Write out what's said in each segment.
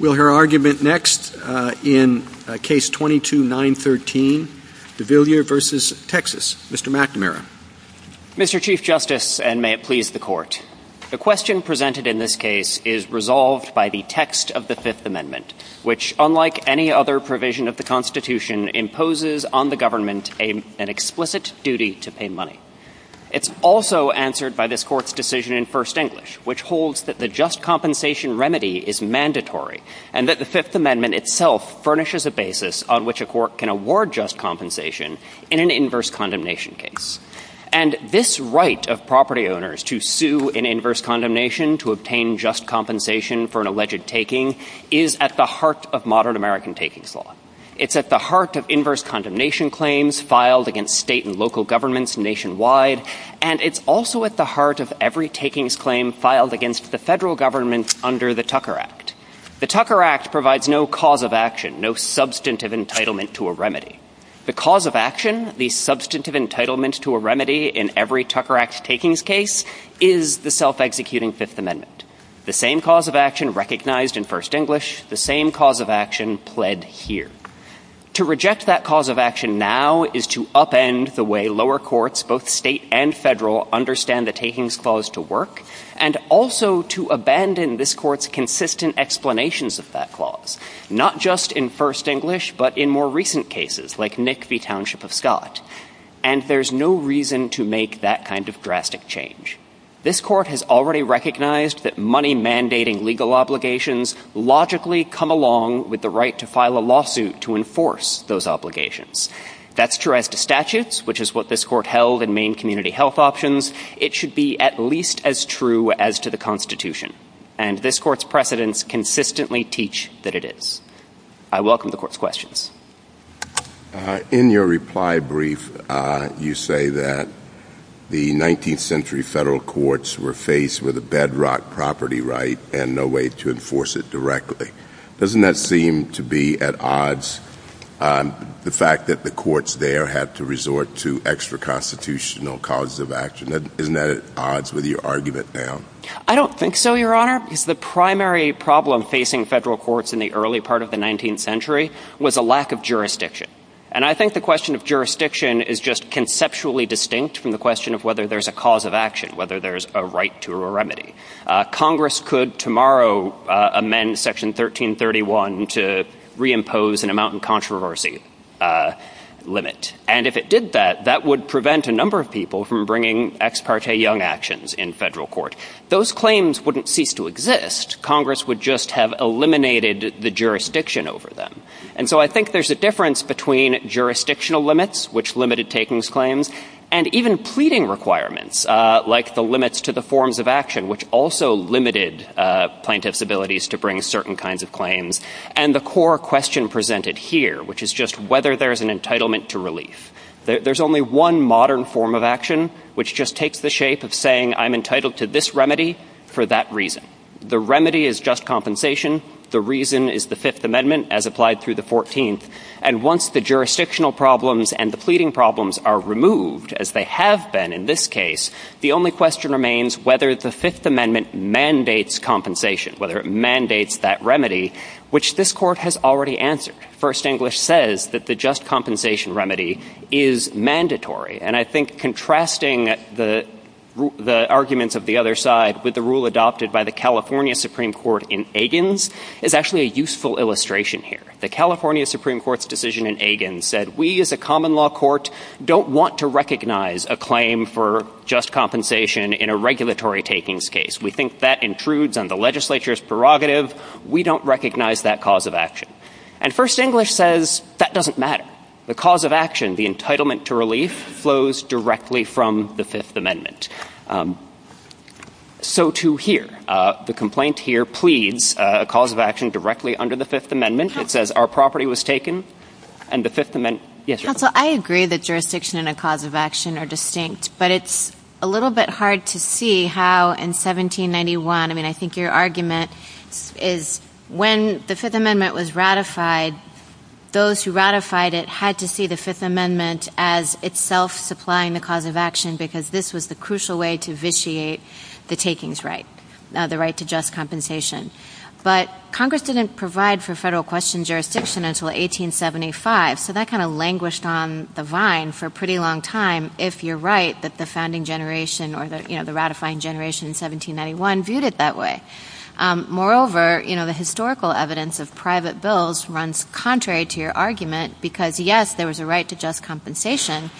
Mr. Chief Justice, and may it please the Court, the question presented in this case is resolved by the text of the Fifth Amendment, which, unlike any other provision of the Constitution, imposes on the government an explicit duty to pay money. It's also answered by this Court's decision in first English, which holds that the just And that the Fifth Amendment itself furnishes a basis on which a court can award just compensation in an inverse condemnation case. And this right of property owners to sue in inverse condemnation to obtain just compensation for an alleged taking is at the heart of modern American takings law. It's at the heart of inverse condemnation claims filed against state and local governments nationwide, and it's also at the heart of every takings claim filed against the federal government under the Tucker Act. The Tucker Act provides no cause of action, no substantive entitlement to a remedy. The cause of action, the substantive entitlement to a remedy in every Tucker Act takings case is the self-executing Fifth Amendment. The same cause of action recognized in first English, the same cause of action pled here. To reject that cause of action now is to upend the way lower courts, both state and federal, understand the takings clause to work, and also to abandon this Court's consistent explanations of that clause, not just in first English, but in more recent cases, like Nick v. Township of Scott. And there's no reason to make that kind of drastic change. This Court has already recognized that money mandating legal obligations logically come along with the right to file a lawsuit to enforce those obligations. That's true as to statutes, which is what this Court held in Maine Community Health Options. It should be at least as true as to the Constitution, and this Court's precedents consistently teach that it is. I welcome the Court's questions. In your reply brief, you say that the 19th century federal courts were faced with a bedrock property right and no way to enforce it directly. Doesn't that seem to be at odds, the fact that the courts there had to resort to extra constitutional causes of action? Isn't that at odds with your argument now? I don't think so, Your Honor. The primary problem facing federal courts in the early part of the 19th century was a lack of jurisdiction. And I think the question of jurisdiction is just conceptually distinct from the question of whether there's a cause of action, whether there's a right to a remedy. Congress could tomorrow amend Section 1331 to reimpose an amount in controversy limit. And if it did that, that would prevent a number of people from bringing ex parte young actions in federal court. Those claims wouldn't cease to exist. Congress would just have eliminated the jurisdiction over them. And so I think there's a difference between jurisdictional limits, which limited takings claims, and even pleading requirements, like the limits to the forms of action, which also limited plaintiffs' abilities to bring certain kinds of claims. And the core question presented here, which is just whether there's an entitlement to relief. There's only one modern form of action, which just takes the shape of saying, I'm entitled to this remedy for that reason. The remedy is just compensation. The reason is the Fifth Amendment as applied through the 14th. And once the jurisdictional problems and the pleading problems are removed, as they have been in this case, the only question remains whether the Fifth Amendment mandates compensation, whether it mandates that remedy, which this court has already answered. First English says that the just compensation remedy is mandatory. And I think contrasting the arguments of the other side with the rule adopted by the California Supreme Court in Egan's is actually a useful illustration here. The California Supreme Court's decision in Egan said, we as a common law court don't want to recognize a claim for just compensation in a regulatory takings case. We think that intrudes on the legislature's prerogative. We don't recognize that cause of action. And First English says that doesn't matter. The cause of action, the entitlement to relief, flows directly from the Fifth Amendment. So too here. The complaint here pleads a cause of action directly under the Fifth Amendment. It says our property was taken and the Fifth Amendment. Yes, I agree that jurisdiction and a cause of action are distinct, but it's a little bit hard to see how in 1791. I mean, I think your argument is when the Fifth Amendment was ratified, those who ratified it had to see the Fifth Amendment as itself supplying the cause of action, because this was the crucial way to vitiate the takings right, the right to just compensation. But Congress didn't provide for federal question jurisdiction until 1875. So that kind of languished on the vine for a pretty long time, if you're right, that the founding generation or the ratifying generation in 1791 viewed it that way. Moreover, the historical evidence of private bills runs contrary to your argument because, yes, there was a right to just compensation.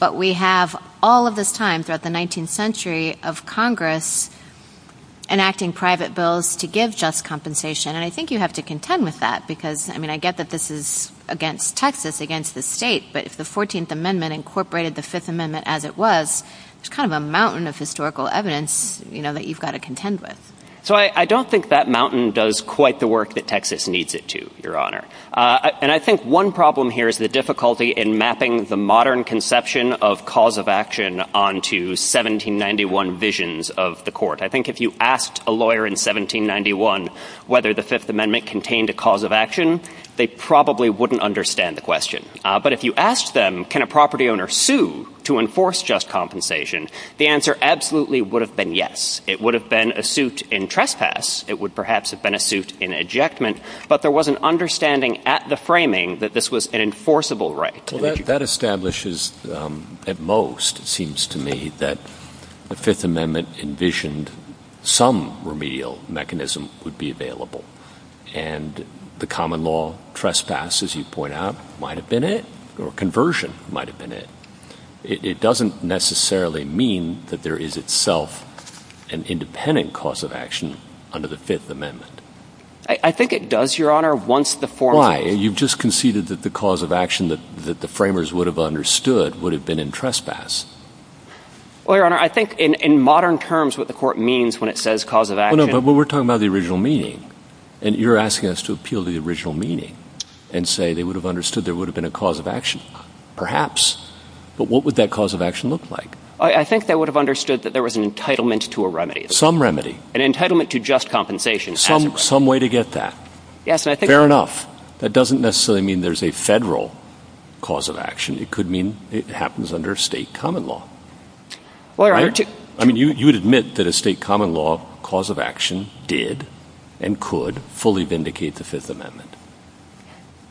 But we have all of this time throughout the 19th century of Congress enacting private bills to give just compensation. And I think you have to contend with that because I mean, I get that this is against Texas, against the state. But the 14th Amendment incorporated the Fifth Amendment as it was kind of a mountain of historical evidence that you've got to contend with. So I don't think that mountain does quite the work that Texas needs it to, Your Honor. And I think one problem here is the difficulty in mapping the modern conception of cause of action onto 1791 visions of the court. I think if you asked a lawyer in 1791 whether the Fifth Amendment contained a cause of action, they probably wouldn't understand the question. But if you ask them, can a property owner sue to enforce just compensation? The answer absolutely would have been yes. It would have been a suit in trespass. It would perhaps have been a suit in ejectment. But there was an understanding at the framing that this was an enforceable right. That establishes at most, it seems to me, that the Fifth Amendment envisioned some remedial mechanism would be available. And the common law trespass, as you point out, might have been it or conversion might have been it. It doesn't necessarily mean that there is itself an independent cause of action under the Fifth Amendment. I think it does, Your Honor, once the form... Why? You've just conceded that the cause of action that the framers would have understood would have been in trespass. Well, Your Honor, I think in modern terms, what the court means when it says cause of action... No, but we're talking about the original meaning. And you're asking us to appeal the original meaning and say they would have understood there would have been a cause of action. Perhaps. But what would that cause of action look like? I think they would have understood that there was an entitlement to a remedy. Some remedy. An entitlement to just compensation. Some way to get that. Yes. Fair enough. That doesn't necessarily mean there's a federal cause of action. It could mean it happens under state common law. Well, I mean, you would admit that a state common law cause of action did and could fully vindicate the Fifth Amendment.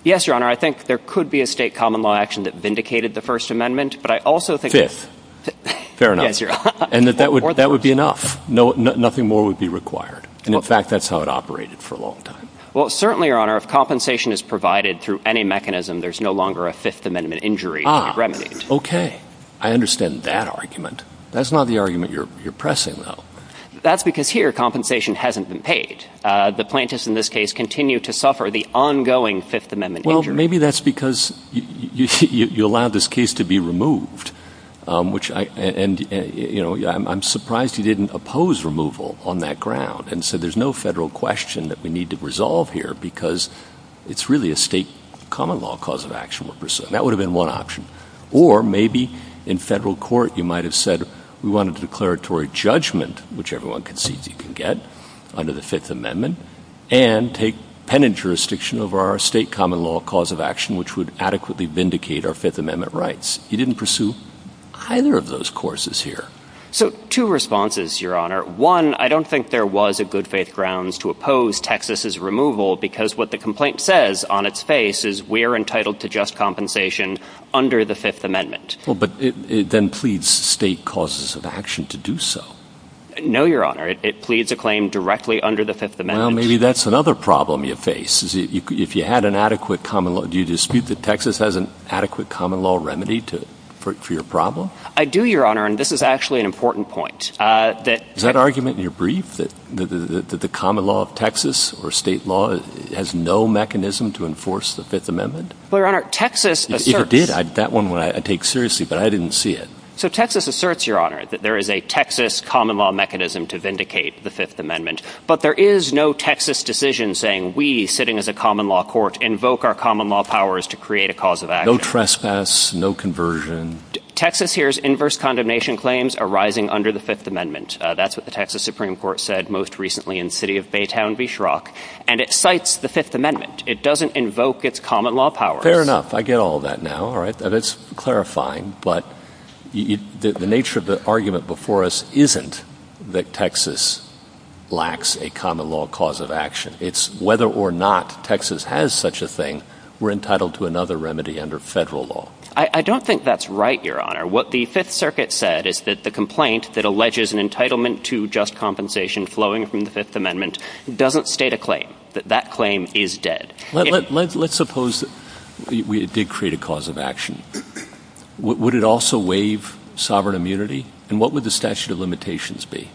Yes, Your Honor. I think there could be a state common law action that vindicated the First Amendment. But I also think... Fifth. Fair enough. And that would be enough. Nothing more would be required. And in fact, that's how it operated for a long time. Well, certainly, Your Honor, if compensation is provided through any mechanism, there's no longer a Fifth Amendment injury to be remedied. OK. I understand that argument. That's not the argument you're pressing, though. That's because here, compensation hasn't been paid. The plaintiffs in this case continue to suffer the ongoing Fifth Amendment injury. Well, maybe that's because you allow this case to be removed, which I and, you know, I'm surprised you didn't oppose removal on that ground. And so there's no federal question that we need to resolve here because it's really a state common law cause of action. That would have been one option. Or maybe in federal court, you might have said we want a declaratory judgment, which everyone can see you can get under the Fifth Amendment and take pen and paper jurisdiction over our state common law cause of action, which would adequately vindicate our Fifth Amendment rights. You didn't pursue either of those courses here. So two responses, Your Honor. One, I don't think there was a good faith grounds to oppose Texas's removal because what the complaint says on its face is we are entitled to just compensation under the Fifth Amendment. Well, but it then pleads state causes of action to do so. No, Your Honor, it pleads a claim directly under the Fifth Amendment. Well, maybe that's another problem you face is if you had an adequate common law, do you dispute that Texas has an adequate common law remedy for your problem? I do, Your Honor. And this is actually an important point that that argument in your brief that the common law of Texas or state law has no mechanism to enforce the Fifth Amendment. Well, Your Honor, Texas did that one when I take seriously, but I didn't see it. So Texas asserts, Your Honor, that there is a Texas common law mechanism to vindicate the Fifth Amendment. But there is no Texas decision saying we sitting as a common law court invoke our common law powers to create a cause of that. No trespass, no conversion. Texas hears inverse condemnation claims arising under the Fifth Amendment. That's what the Texas Supreme Court said most recently in city of Baytown, Bisharaq. And it cites the Fifth Amendment. It doesn't invoke its common law power. Fair enough. I get all that now. All right. That's clarifying. But the nature of the argument before us isn't that Texas lacks a common law cause of action. It's whether or not Texas has such a thing. We're entitled to another remedy under federal law. I don't think that's right, Your Honor. What the Fifth Circuit said is that the complaint that alleges an entitlement to just compensation flowing from the Fifth Amendment doesn't state a claim that that claim is dead. Let's suppose that we did create a cause of action. Would it also waive sovereign immunity? And what would the statute of limitations be?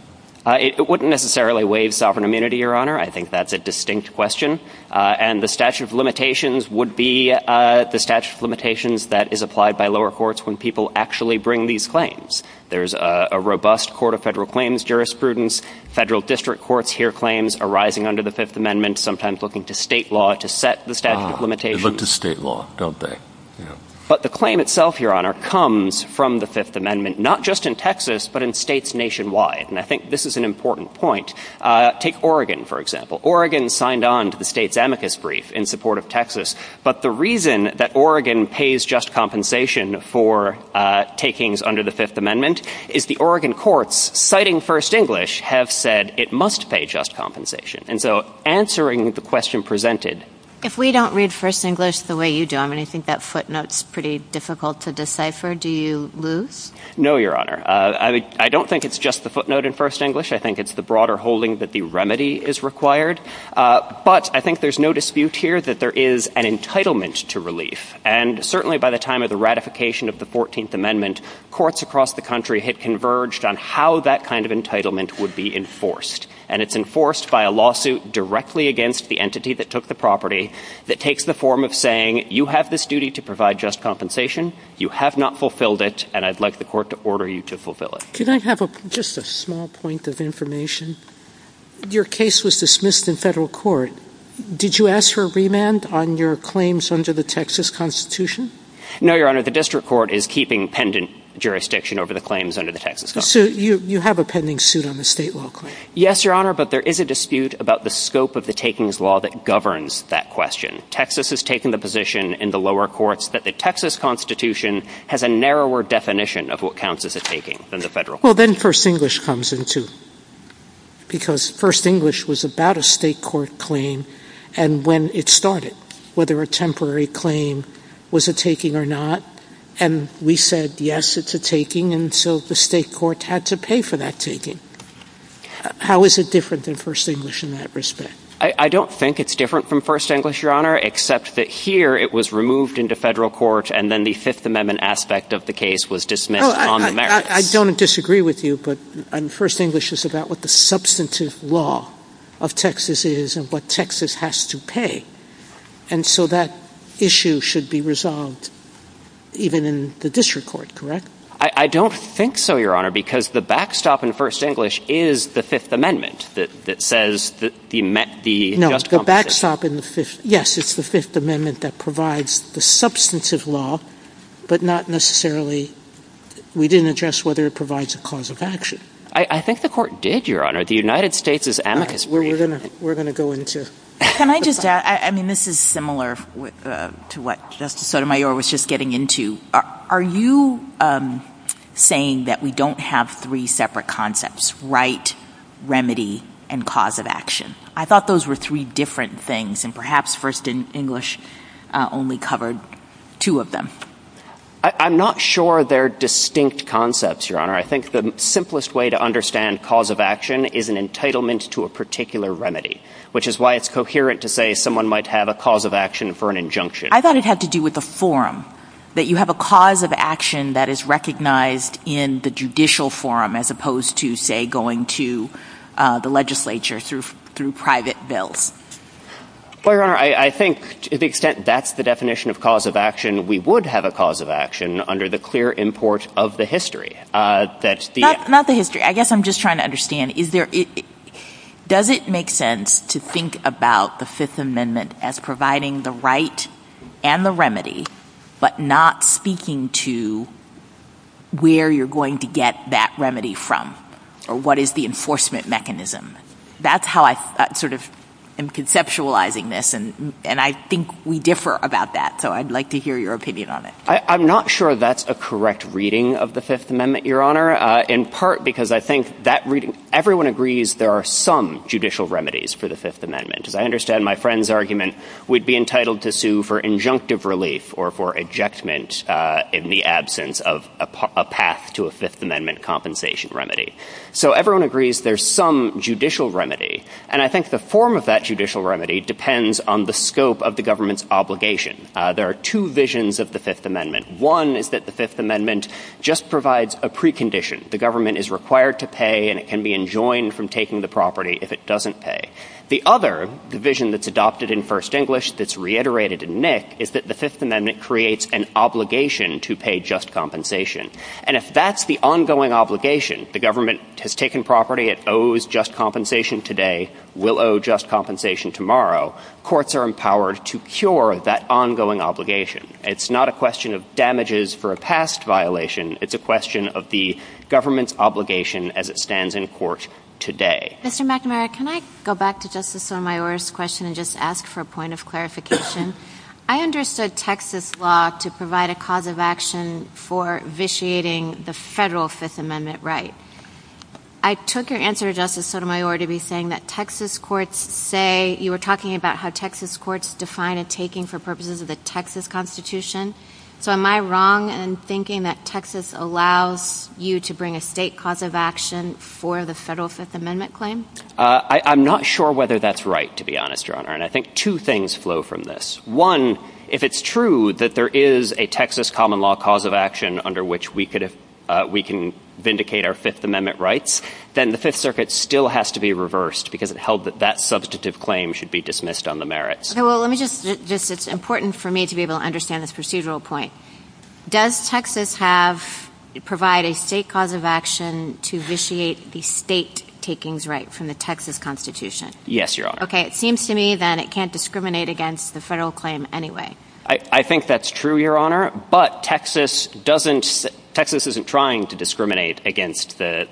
It wouldn't necessarily waive sovereign immunity, Your Honor. I think that's a distinct question. And the statute of limitations would be the statute of limitations that is applied by lower courts when people actually bring these claims. There's a robust court of federal claims jurisprudence. Federal district courts hear claims arising under the Fifth Amendment, sometimes looking to state law to set the statute of limitations. Look to state law, don't they? But the claim itself, Your Honor, comes from the Fifth Amendment, not just in Texas, but in states nationwide. And I think this is an important point. Take Oregon, for example. Oregon signed on to the state's amicus brief in support of Texas. But the reason that Oregon pays just compensation for takings under the Fifth Amendment is the Oregon courts, citing First English, have said it must pay just compensation. And so answering the question presented. If we don't read First English the way you do, I mean, I think that footnote's pretty difficult to decipher. Do you lose? No, Your Honor. I don't think it's just the footnote in First English. I think it's the broader holding that the remedy is required. But I think there's no dispute here that there is an entitlement to relief. And certainly by the time of the ratification of the 14th Amendment, courts across the country had converged on how that kind of entitlement would be enforced. And it's enforced by a lawsuit directly against the entity that took the property that takes the form of saying you have this duty to provide just compensation. You have not fulfilled it. And I'd like the court to order you to fulfill it. Can I have just a small point of information? Your case was dismissed in federal court. Did you ask for a remand on your claims under the Texas Constitution? No, Your Honor. The district court is keeping pendant jurisdiction over the claims under the Texas. So you have a pending suit on the state law. Yes, Your Honor. But there is a dispute about the scope of the takings law that governs that question. Texas has taken the position in the lower courts that the Texas Constitution has a narrower definition of what counts as a taking than the federal. Well, then First English comes into. Because First English was about a state court claim and when it started, whether a temporary claim was a taking or not. And we said, yes, it's a taking. And so the state court had to pay for that taking. How is it different than First English in that respect? I don't think it's different from First English, Your Honor, except that here it was removed into federal court and then the Fifth Amendment aspect of the case was dismissed. I don't disagree with you, but First English is about what the substantive law of Texas is and what Texas has to pay. And so that issue should be resolved even in the district court, correct? I don't think so, Your Honor, because the backstop in First English is the Fifth Amendment that says that he met the backstop. Yes, it's the Fifth Amendment that provides the substantive law, but not necessarily. We didn't address whether it provides a cause of action. I think the court did, Your Honor. The United States is amicus. We're going to we're going to go into. Can I just add, I mean, this is similar to what Justice Sotomayor was just getting into. Are you saying that we don't have three separate concepts, right, remedy and cause of action? I thought those were three different things and perhaps First English only covered two of them. I'm not sure they're distinct concepts, Your Honor. I think the simplest way to understand cause of action is an entitlement to a particular remedy, which is why it's coherent to say someone might have a cause of action for an injunction. I thought it had to do with the forum, that you have a cause of action that is recognized in the judicial forum as opposed to, say, going to the legislature through through private bills. Well, I think to the extent that's the definition of cause of action, we would have a cause of action under the clear import of the history that's not the history. I guess I'm just trying to understand, is there does it make sense to think about the Fifth Amendment as providing the right and the remedy, but not speaking to where you're going to get that remedy from or what is the enforcement mechanism? That's how I sort of am conceptualizing this. And I think we differ about that. So I'd like to hear your opinion on it. I'm not sure that's a correct reading of the Fifth Amendment, Your Honor, in part because I think that everyone agrees there are some judicial remedies for the Fifth Amendment. I understand my friend's argument would be entitled to sue for injunctive relief or for ejectment in the absence of a path to a Fifth Amendment compensation remedy. So everyone agrees there's some judicial remedy. And I think the form of that judicial remedy depends on the scope of the government's obligation. There are two visions of the Fifth Amendment. One is that the Fifth Amendment just provides a precondition. The government is required to pay and it can be enjoined from taking the property if it doesn't pay. The other division that's adopted in First English that's reiterated in NYC is that the Fifth Amendment creates an obligation to pay just compensation. And if that's the ongoing obligation, the government has taken property, it owes just compensation today, will owe just compensation tomorrow. Courts are empowered to cure that ongoing obligation. It's not a question of damages for a past violation. It's a question of the government's obligation as it stands in court today. Mr. McNamara, can I go back to Justice Sotomayor's question and just ask for a point of clarification? I understood Texas law to provide a cause of action for vitiating the federal Fifth Amendment right. I took your answer, Justice Sotomayor, to be saying that Texas courts say you were talking about how Texas courts define a taking for purposes of the Texas Constitution. So am I wrong in thinking that Texas allows you to bring a state cause of action for the federal Fifth Amendment claim? I'm not sure whether that's right, to be honest, Your Honor, and I think two things flow from this. One, if it's true that there is a Texas common law cause of action under which we could, if we can vindicate our Fifth Amendment rights, then the Fifth Circuit still has to be reversed because it held that that substantive claim should be dismissed on the merits. Well, let me just, it's important for me to be able to understand this procedural point. Does Texas have to provide a state cause of action to vitiate the state takings right from the Texas Constitution? Yes, Your Honor. OK, it seems to me that it can't discriminate against the federal claim anyway. I think that's true, Your Honor. But Texas doesn't, Texas isn't trying to discriminate against the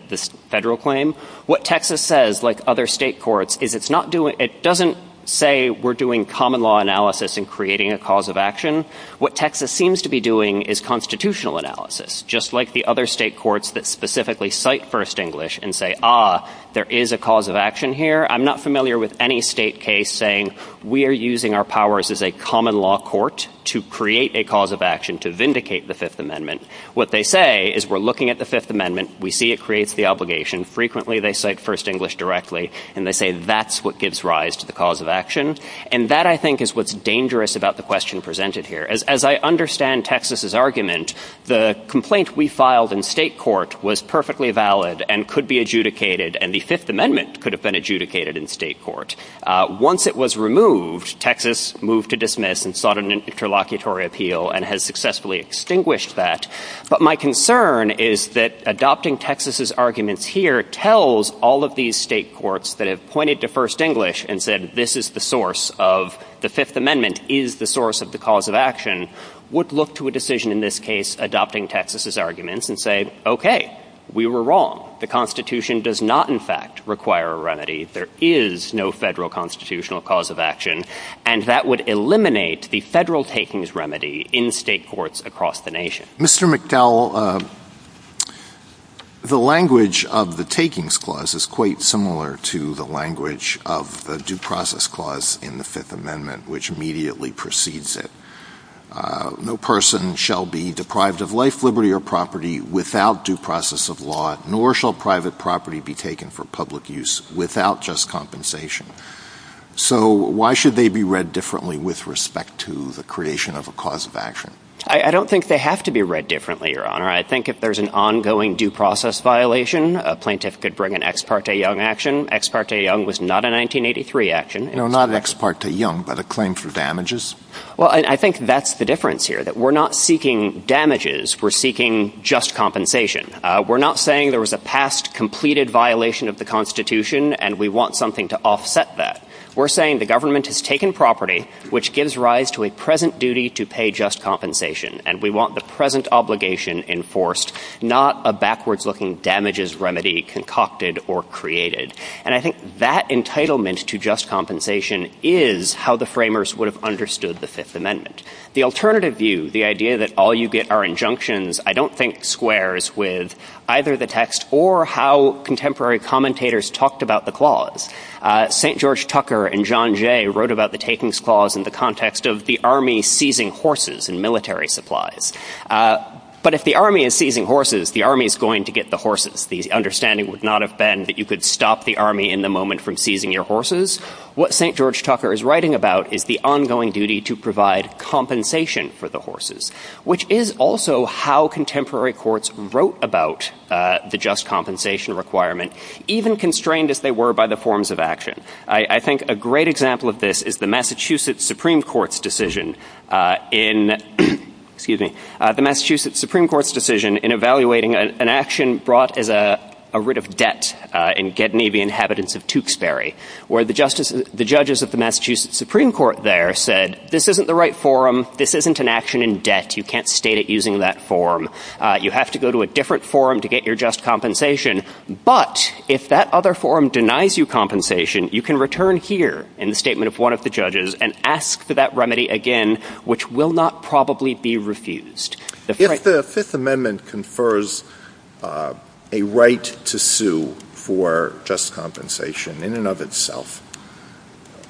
federal claim. What Texas says, like other state courts, is it's not doing, it doesn't say we're doing common law analysis and creating a cause of action. What Texas seems to be doing is constitutional analysis, just like the other state courts that specifically cite first English and say, ah, there is a cause of action here. I'm not familiar with any state case saying we are using our powers as a common law court to create a cause of action to vindicate the Fifth Amendment. What they say is we're looking at the Fifth Amendment. We see it creates the obligation. Frequently, they cite first English directly and they say that's what gives rise to the cause of action. And that, I think, is what's dangerous about the question presented here. As I understand Texas's argument, the complaint we filed in state court was perfectly valid and could be adjudicated. And the Fifth Amendment could have been adjudicated in state court. Once it was removed, Texas moved to dismiss and sought an interlocutory appeal and has successfully extinguished that. But my concern is that adopting Texas's arguments here tells all of these state courts that have pointed to first English and said this is the source of the Fifth Amendment is the source of the cause of action. Would look to a decision in this case, adopting Texas's arguments and say, OK, we were wrong. The Constitution does not, in fact, require a remedy. There is no federal constitutional cause of action. And that would eliminate the federal takings remedy in state courts across the nation. Mr. McDowell, the language of the takings clause is quite similar to the language of the due process clause in the Fifth Amendment, which immediately precedes it. No person shall be deprived of life, liberty or property without due process of law, nor shall private property be taken for public use without just compensation. So why should they be read differently with respect to the creation of a cause of action? I don't think they have to be read differently, Your Honor. I think if there's an ongoing due process violation, a plaintiff could bring an ex parte young action. Ex parte young was not a 1983 action. No, not ex parte young, but a claim for damages. Well, I think that's the difference here, that we're not seeking damages, we're seeking just compensation. We're not saying there was a past completed violation of the Constitution and we want something to offset that. We're saying the government has taken property, which gives rise to a present duty to pay just compensation. And we want the present obligation enforced, not a backwards looking damages remedy concocted or created. And I think that entitlement to just compensation is how the framers would have understood the Fifth Amendment. The alternative view, the idea that all you get are injunctions, I don't think squares with either the text or how contemporary commentators talked about the clause. St. George Tucker and John Jay wrote about the takings clause in the context of the army seizing horses and military supplies. But if the army is seizing horses, the army is going to get the horses. The understanding would not have been that you could stop the army in the moment from seizing your horses. What St. George Tucker is writing about is the ongoing duty to provide compensation for the horses, which is also how contemporary courts wrote about the just compensation requirement, even constrained if they were by the forms of action. I think a great example of this is the Massachusetts Supreme Court's decision in evaluating an action brought as a writ of debt in Getty Navy inhabitants of Tewksbury, where the judges of the Massachusetts Supreme Court there said this isn't the right forum, this isn't an action in debt, you can't state it using that form. You have to go to a different forum to get your just compensation. But if that other forum denies you compensation, you can return here in the statement of one of the judges and ask for that remedy again, which will not probably be refused. If the Fifth Amendment confers a right to sue for just compensation in and of itself,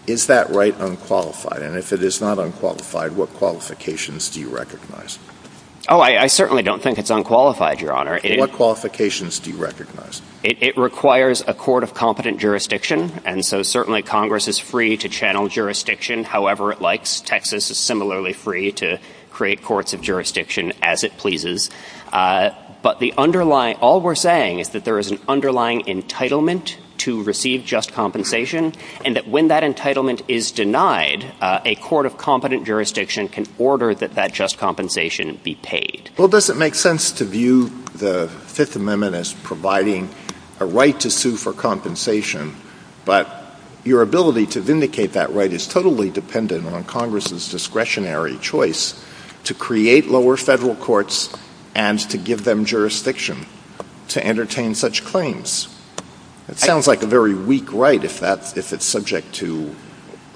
is that right unqualified? And if it is not unqualified, what qualifications do you recognize? Oh, I certainly don't think it's unqualified, Your Honor. What qualifications do you recognize? It requires a court of competent jurisdiction. And so certainly Congress is free to channel jurisdiction however it likes. Texas is similarly free to create courts of jurisdiction as it pleases. But the underlying, all we're saying is that there is an underlying entitlement to receive just compensation, and that when that entitlement is denied, a court of competent jurisdiction can order that that just compensation be paid. Well, does it make sense to view the Fifth Amendment as providing a right to sue for compensation, but your ability to vindicate that right is totally dependent on Congress's discretionary choice to create lower federal courts and to give them jurisdiction to entertain such claims? It sounds like a very weak right if it's subject to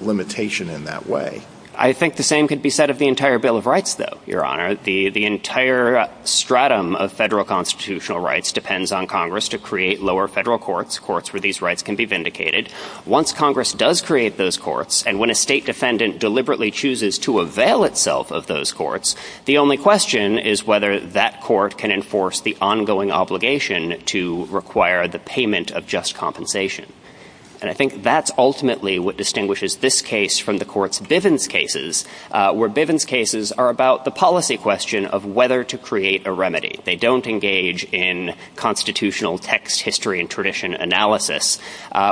limitation in that way. I think the same could be said of the entire Bill of Rights, though, Your Honor. The entire stratum of federal constitutional rights depends on Congress to create lower federal courts, courts where these rights can be vindicated. Once Congress does create those courts, and when a state defendant deliberately chooses to avail itself of those courts, the only question is whether that court can enforce the ongoing obligation to require the payment of just compensation. And I think that's ultimately what distinguishes this case from the court's Bivens cases, where Bivens cases are about the policy question of whether to create a remedy. They don't engage in constitutional text, history, and tradition analysis,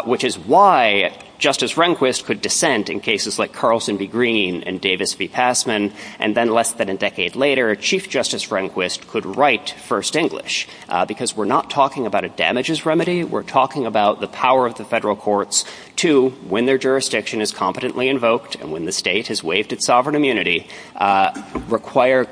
which is why Justice Rehnquist could dissent in cases like Carlson v. Green and Davis v. Passman, and then less than a decade later, Chief Justice Rehnquist could write First English. Because we're not talking about a damages remedy, we're talking about the power of the federal courts to, when their jurisdiction is competently invoked and when the state has waived its sovereign immunity, require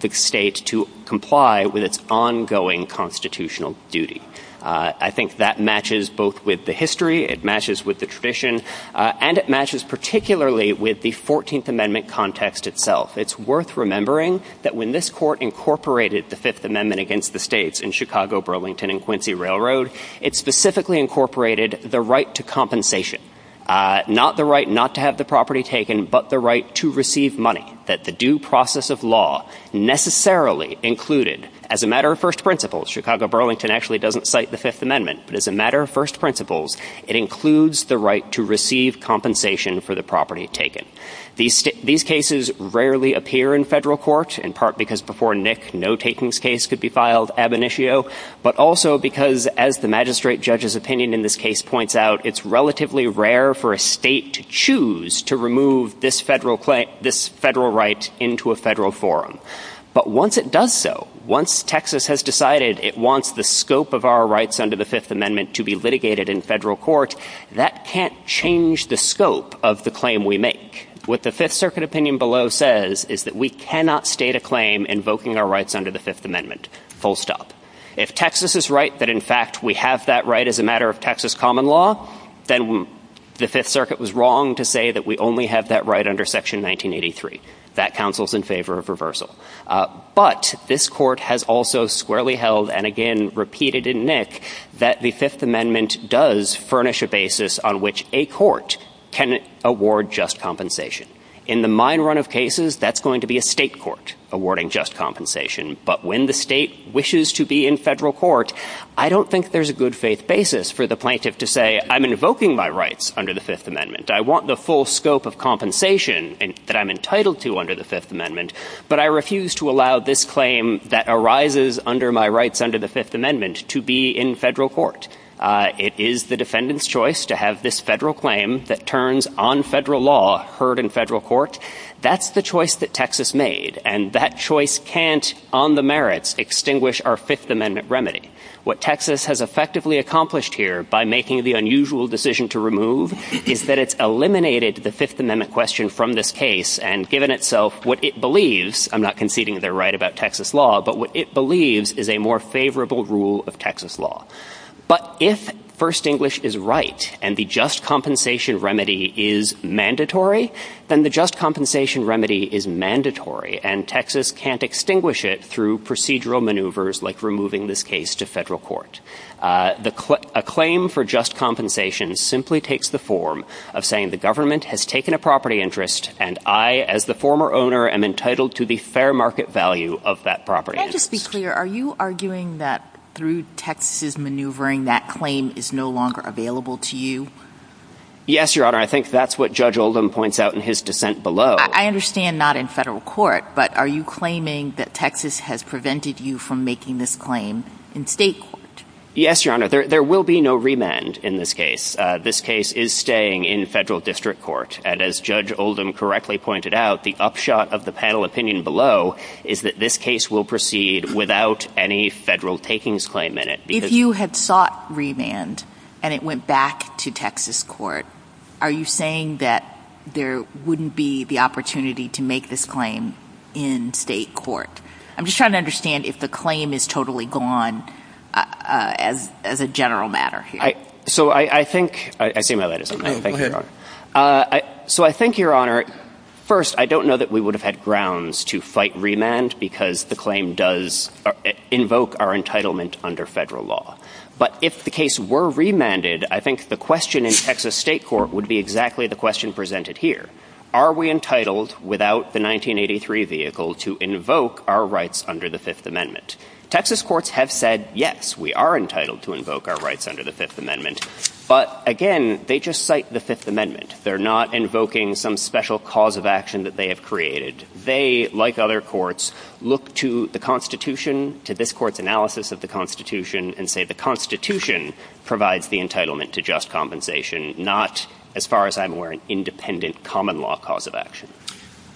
the state to comply with its ongoing constitutional duty. I think that matches both with the history, it matches with the tradition, and it matches particularly with the 14th Amendment context itself. It's worth remembering that when this court incorporated the Fifth Amendment against the states in Chicago, Burlington, and Quincy Railroad, it specifically incorporated the right to compensation. Not the right not to have the property taken, but the right to receive money that the due process of law necessarily included as a matter of first principles. Chicago Burlington actually doesn't cite the Fifth Amendment, but as a matter of first principles, it includes the right to receive compensation for the property taken. These cases rarely appear in federal court, in part because before Nick, no takings case could be filed ab initio, but also because, as the magistrate judge's opinion in this case points out, it's relatively rare for a state to choose to remove this federal right into a federal forum. But once it does so, once Texas has decided it wants the scope of our rights under the Fifth Amendment to be litigated in federal court, that can't change the scope of the claim we make. What the Fifth Circuit opinion below says is that we cannot state a claim invoking our rights under the Fifth Amendment, full stop. If Texas is right that, in fact, we have that right as a matter of Texas common law, then the Fifth Circuit was wrong to say that we only have that right under Section 1983. That counsels in favor of reversal, but this court has also squarely held, and again repeated in Nick, that the Fifth Amendment does furnish a basis on which a court can award just compensation. In the mine run of cases, that's going to be a state court awarding just compensation, but when the state wishes to be in federal court, I don't think there's a good faith basis for the plaintiff to say, I'm invoking my rights under the Fifth Amendment. I want the full scope of compensation that I'm entitled to under the Fifth Amendment, but I refuse to allow this claim that arises under my rights under the Fifth Amendment to be in federal court. It is the defendant's choice to have this federal claim that turns on federal law heard in federal court. That's the choice that Texas made, and that choice can't, on the merits, extinguish our Fifth Amendment remedy. What Texas has effectively accomplished here by making the unusual decision to remove is that it's eliminated the Fifth Amendment question from this case and given itself what it believes, I'm not conceding they're right about Texas law, but what it believes is a more favorable rule of Texas law. But if First English is right and the just compensation remedy is mandatory, then the just compensation remedy is mandatory, and Texas can't extinguish it through procedural maneuvers like removing this case to federal court. A claim for just compensation simply takes the form of saying the government has taken a property interest, and I, as the former owner, am entitled to the fair market value of that property. Can I just be clear, are you arguing that through Texas' maneuvering, that claim is no longer available to you? Yes, Your Honor, I think that's what Judge Oldham points out in his dissent below. I understand not in federal court, but are you claiming that Texas has prevented you from making this claim in state court? Yes, Your Honor, there will be no remand in this case. This case is staying in federal district court, and as Judge Oldham correctly pointed out, the upshot of the panel opinion below is that this case will proceed without any federal takings claim in it. If you had sought remand and it went back to Texas court, are you saying that there wouldn't be the opportunity to make this claim in state court? I'm just trying to understand if the claim is totally gone as a general matter. So I think, I see my light is on there. Go ahead. So I think, Your Honor, first, I don't know that we would have had grounds to fight remand because the claim does invoke our entitlement under federal law. But if the case were remanded, I think the question in Texas state court would be exactly the question presented here. Are we entitled, without the 1983 vehicle, to invoke our rights under the Fifth Amendment? Texas courts have said, yes, we are entitled to invoke our rights under the Fifth Amendment. But again, they just cite the Fifth Amendment. They're not invoking some special cause of action that they have created. They, like other courts, look to the Constitution, to this court's analysis of the Constitution, and say the Constitution provides the entitlement to just compensation, not, as far as I'm aware, an independent common law cause of action.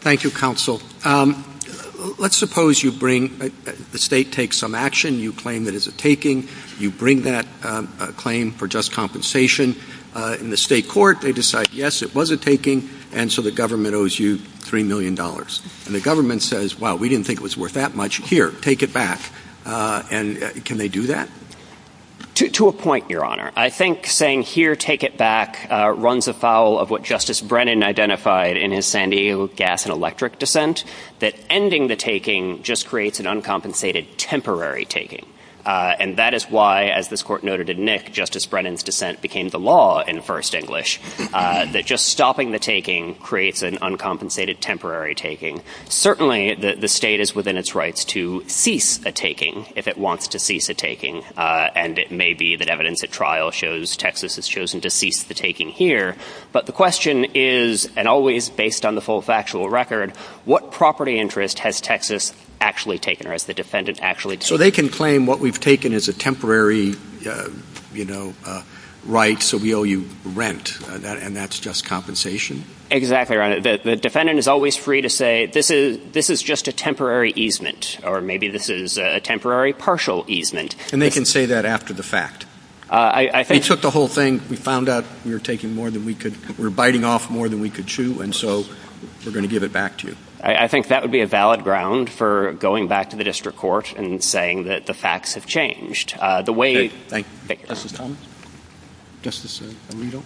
Thank you, counsel. Let's suppose you bring, the state takes some action, you claim that it's a taking, you bring that claim for just compensation. In the state court, they decide, yes, it was a taking, and so the government owes you $3 million. And the government says, wow, we didn't think it was worth that much. Here, take it back. And can they do that? To a point, Your Honor. I think saying, here, take it back, runs afoul of what Justice Brennan identified in his San Diego gas and electric dissent, that ending the taking just creates an uncompensated temporary taking. And that is why, as this court noted in Nick, Justice Brennan's dissent became the law in first English, that just stopping the taking creates an uncompensated temporary taking. Certainly, the state is within its rights to cease a taking, if it wants to cease a taking. And it may be that evidence at trial shows Texas has chosen to cease the taking here. But the question is, and always based on the full factual record, what property interest has Texas actually taken, or has the defendant actually taken? So they can claim what we've taken is a temporary, you know, right, so we owe you rent, and that's just compensation? Exactly, Your Honor. The defendant is always free to say, this is just a temporary easement, or maybe this is a temporary partial easement. And they can say that after the fact? We took the whole thing, we found out we were taking more than we could, we were biting off more than we could chew, and so we're going to give it back to you. I think that would be a valid ground for going back to the district court and saying that the facts have changed. The way- Thank you. Justice Thomas? Justice Alito?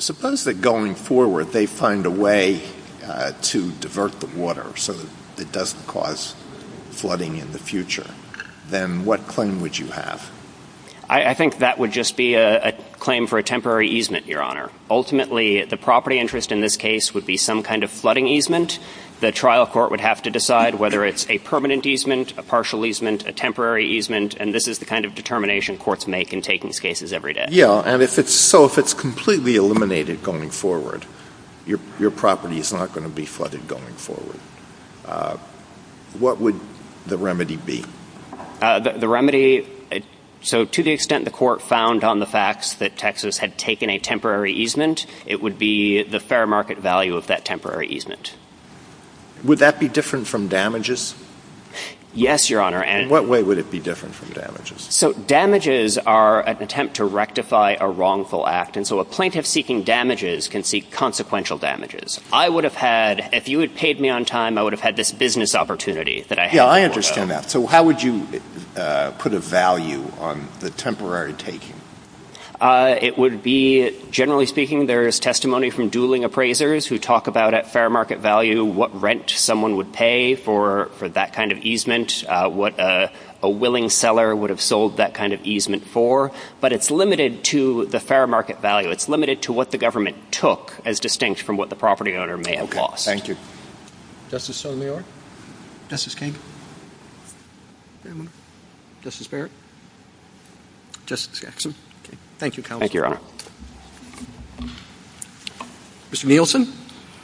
Suppose that going forward, they find a way to divert the water so that it doesn't cause flooding in the future. Then what claim would you have? I think that would just be a claim for a temporary easement, Your Honor. Ultimately, the property interest in this case would be some kind of flooding easement. The trial court would have to decide whether it's a permanent easement, a partial easement, a temporary easement. And this is the kind of determination courts make in taking these cases every day. Yeah, and so if it's completely eliminated going forward, your property is not going to be flooded going forward. What would the remedy be? The remedy- so to the extent the court found on the facts that Texas had taken a temporary easement, it would be the fair market value of that temporary easement. Would that be different from damages? Yes, Your Honor, and- What way would it be different from damages? So damages are an attempt to rectify a wrongful act. And so a plaintiff seeking damages can seek consequential damages. I would have had- if you had paid me on time, I would have had this business opportunity that I- Yeah, I understand that. So how would you put a value on the temporary taking? It would be- generally speaking, there's testimony from dueling appraisers who talk about at fair market value what rent someone would pay for that kind of easement, what a willing seller would have sold that kind of easement for. But it's limited to the fair market value. It's limited to what the government took as distinct from what the property owner may have lost. Okay, thank you. Justice Sotomayor? Justice Kagan? Justice Barrett? Justice Jackson? Thank you, Counselor. Thank you, Your Honor. Mr. Nielsen?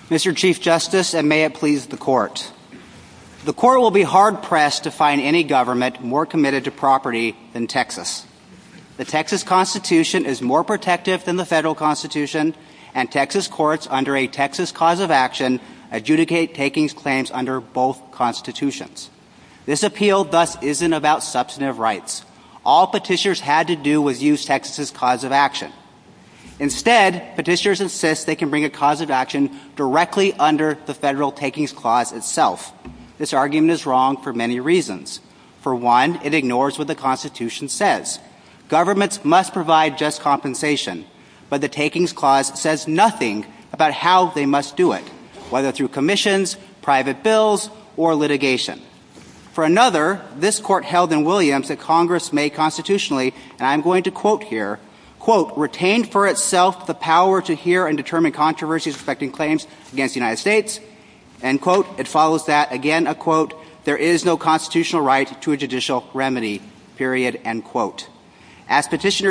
Mr. Chief Justice, and may it please the Court. The Court will be hard-pressed to find any government more committed to property than Texas. The Texas Constitution is more protective than the federal Constitution, and Texas courts, under a Texas cause of action, adjudicate takings claims under both constitutions. This appeal, thus, isn't about substantive rights. All petitioners had to do was use Texas's cause of action. Instead, petitioners insist they can bring a cause of action directly under the federal takings clause itself. This argument is wrong for many reasons. For one, it ignores what the Constitution says. Governments must provide just compensation. But the takings clause says nothing about how they must do it, whether through commissions, private bills, or litigation. For another, this Court held in Williams that Congress may constitutionally, and I'm going to quote here, quote, As petitioners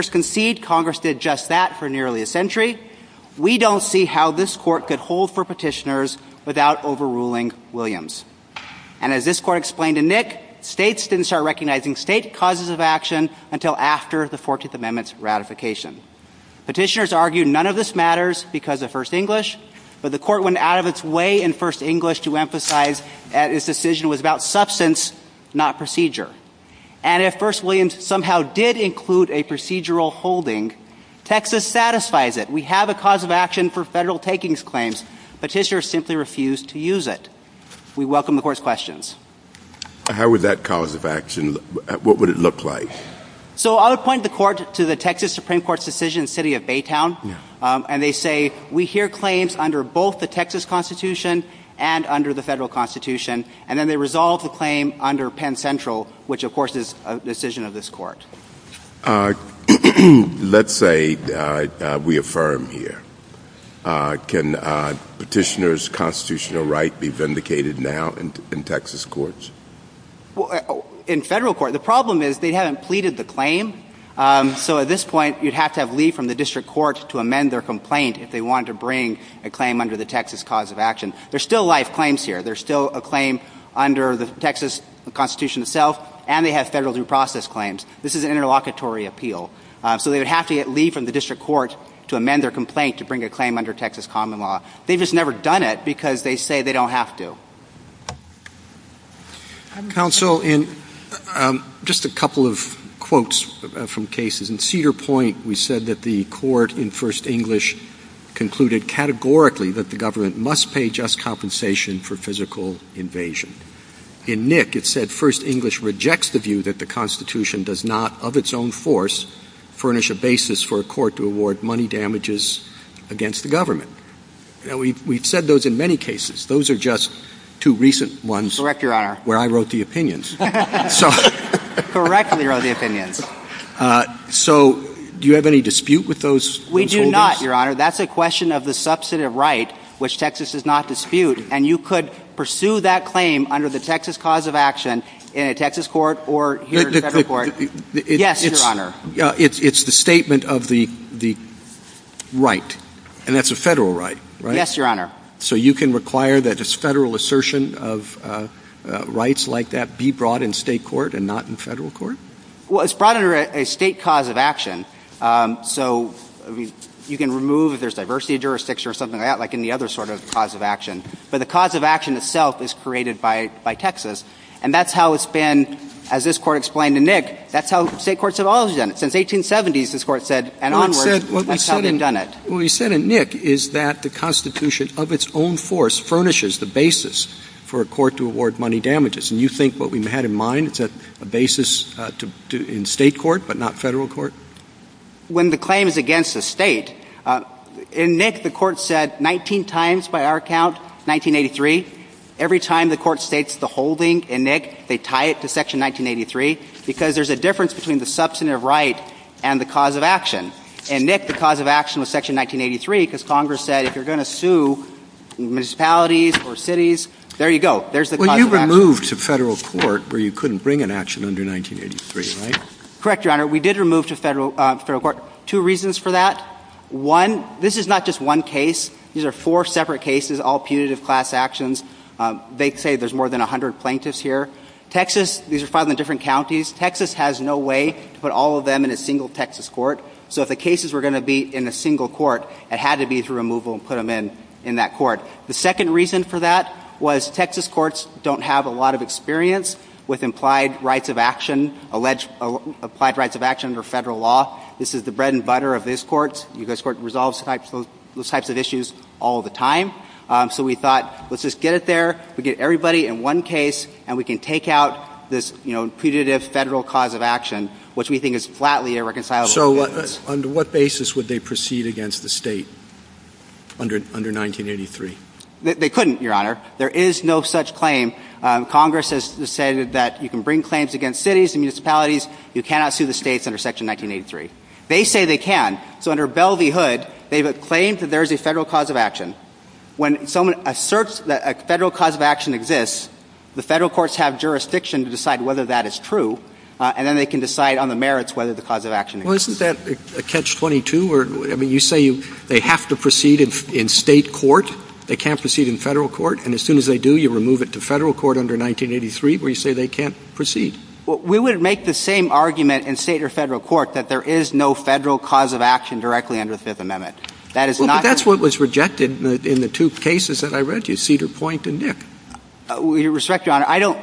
concede Congress did just that for nearly a century, we don't see how this Court could hold for petitioners without overruling Williams. And as this Court explained in Nick, states didn't start recognizing state causes of action until after the 14th Amendment's ratification. Petitioners argue none of this matters because of First English, but the Court went out of its way in First English to emphasize that its decision was about substance, not procedure. And if First Williams somehow did include a procedural holding, Texas satisfies it. We have a cause of action for federal takings claims. We welcome the Court's questions. How would that cause of action, what would it look like? So I'll point the Court to the Texas Supreme Court's decision in the city of Baytown. And they say, we hear claims under both the Texas Constitution and under the federal Constitution. And then they resolve the claim under Penn Central, which of course is a decision of this Court. Let's say we affirm here. Can petitioners' constitutional right be vindicated now in Texas courts? In federal courts. The problem is they haven't pleaded the claim. So at this point, you'd have to have leave from the district courts to amend their complaint if they wanted to bring a claim under the Texas cause of action. There's still live claims here. There's still a claim under the Texas Constitution itself, and they have federal due process claims. This is an interlocutory appeal. So they would have to get leave from the district courts to amend their complaint to bring a claim under Texas common law. They've just never done it because they say they don't have to. Counsel, just a couple of quotes from cases. In Cedar Point, we said that the court in First English concluded categorically that the government must pay just compensation for physical invasion. In Nick, it said First English rejects the view that the Constitution does not, of its own force, furnish a basis for a court to award money damages against the government. And we've said those in many cases. Those are just two recent ones where I wrote the opinions. Correctly wrote the opinions. So do you have any dispute with those? We do not, Your Honor. That's a question of the substantive right, which Texas does not dispute. And you could pursue that claim under the Texas cause of action in a Texas court or here in a federal court. Yes, Your Honor. It's the statement of the right. And that's a federal right, right? Yes, Your Honor. So you can require that this federal assertion of rights like that be brought in state court and not in federal court? Well, it's brought under a state cause of action. So you can remove if there's diversity of jurisdictions or something like that, like any other sort of cause of action. But the cause of action itself is created by Texas. And that's how it's been, as this court explained to Nick, that's how state courts have always done it. Since 1870s, this court said, and onwards, that's how we've done it. What we said in Nick is that the Constitution of its own force furnishes the basis for a court to award money damages. And you think what we had in mind, it's a basis in state court, but not federal court? When the claim is against the state, in Nick, the court said 19 times by our count, 1983, every time the court states the holding in Nick, they tie it to Section 1983, because there's a difference between the substantive right and the cause of action. In Nick, the cause of action was Section 1983, because Congress said, if you're going to sue municipalities or cities, there you go. There's the cause of action. But you removed to federal court where you couldn't bring an action under 1983, right? Correct, Your Honor. We did remove to federal court. Two reasons for that. One, this is not just one case. These are four separate cases, all punitive class actions. They say there's more than 100 plaintiffs here. Texas, these are filed in different counties. Texas has no way to put all of them in a single Texas court. So if the cases were going to be in a single court, it had to be through removal and put them in that court. The second reason for that was Texas courts don't have a lot of experience with implied rights of action, alleged applied rights of action for federal law. This is the bread and butter of this court. This court resolves those types of issues all the time. So we thought, let's just get it there. We get everybody in one case, and we can take out this punitive federal cause of action, which we think is flatly irreconcilable. So on what basis would they proceed against the state under 1983? They couldn't, Your Honor. There is no such claim. Congress has decided that you can bring claims against cities and municipalities. You cannot sue the states under Section 1983. They say they can. So under Bell v. Hood, they have a claim that there is a federal cause of action. When someone asserts that a federal cause of action exists, the federal courts have jurisdiction to decide whether that is true, and then they can decide on the merits whether the cause of action exists. Well, isn't that catch-22? You say they have to proceed in state court. They can't proceed in federal court. And as soon as they do, you remove it to federal court under 1983, where you say they can't proceed. We would make the same argument in state or federal court that there is no federal cause of action directly under the Fifth Amendment. Well, but that's what was rejected in the two cases that I read you, Cedar Point and Nip. With respect, Your Honor, I don't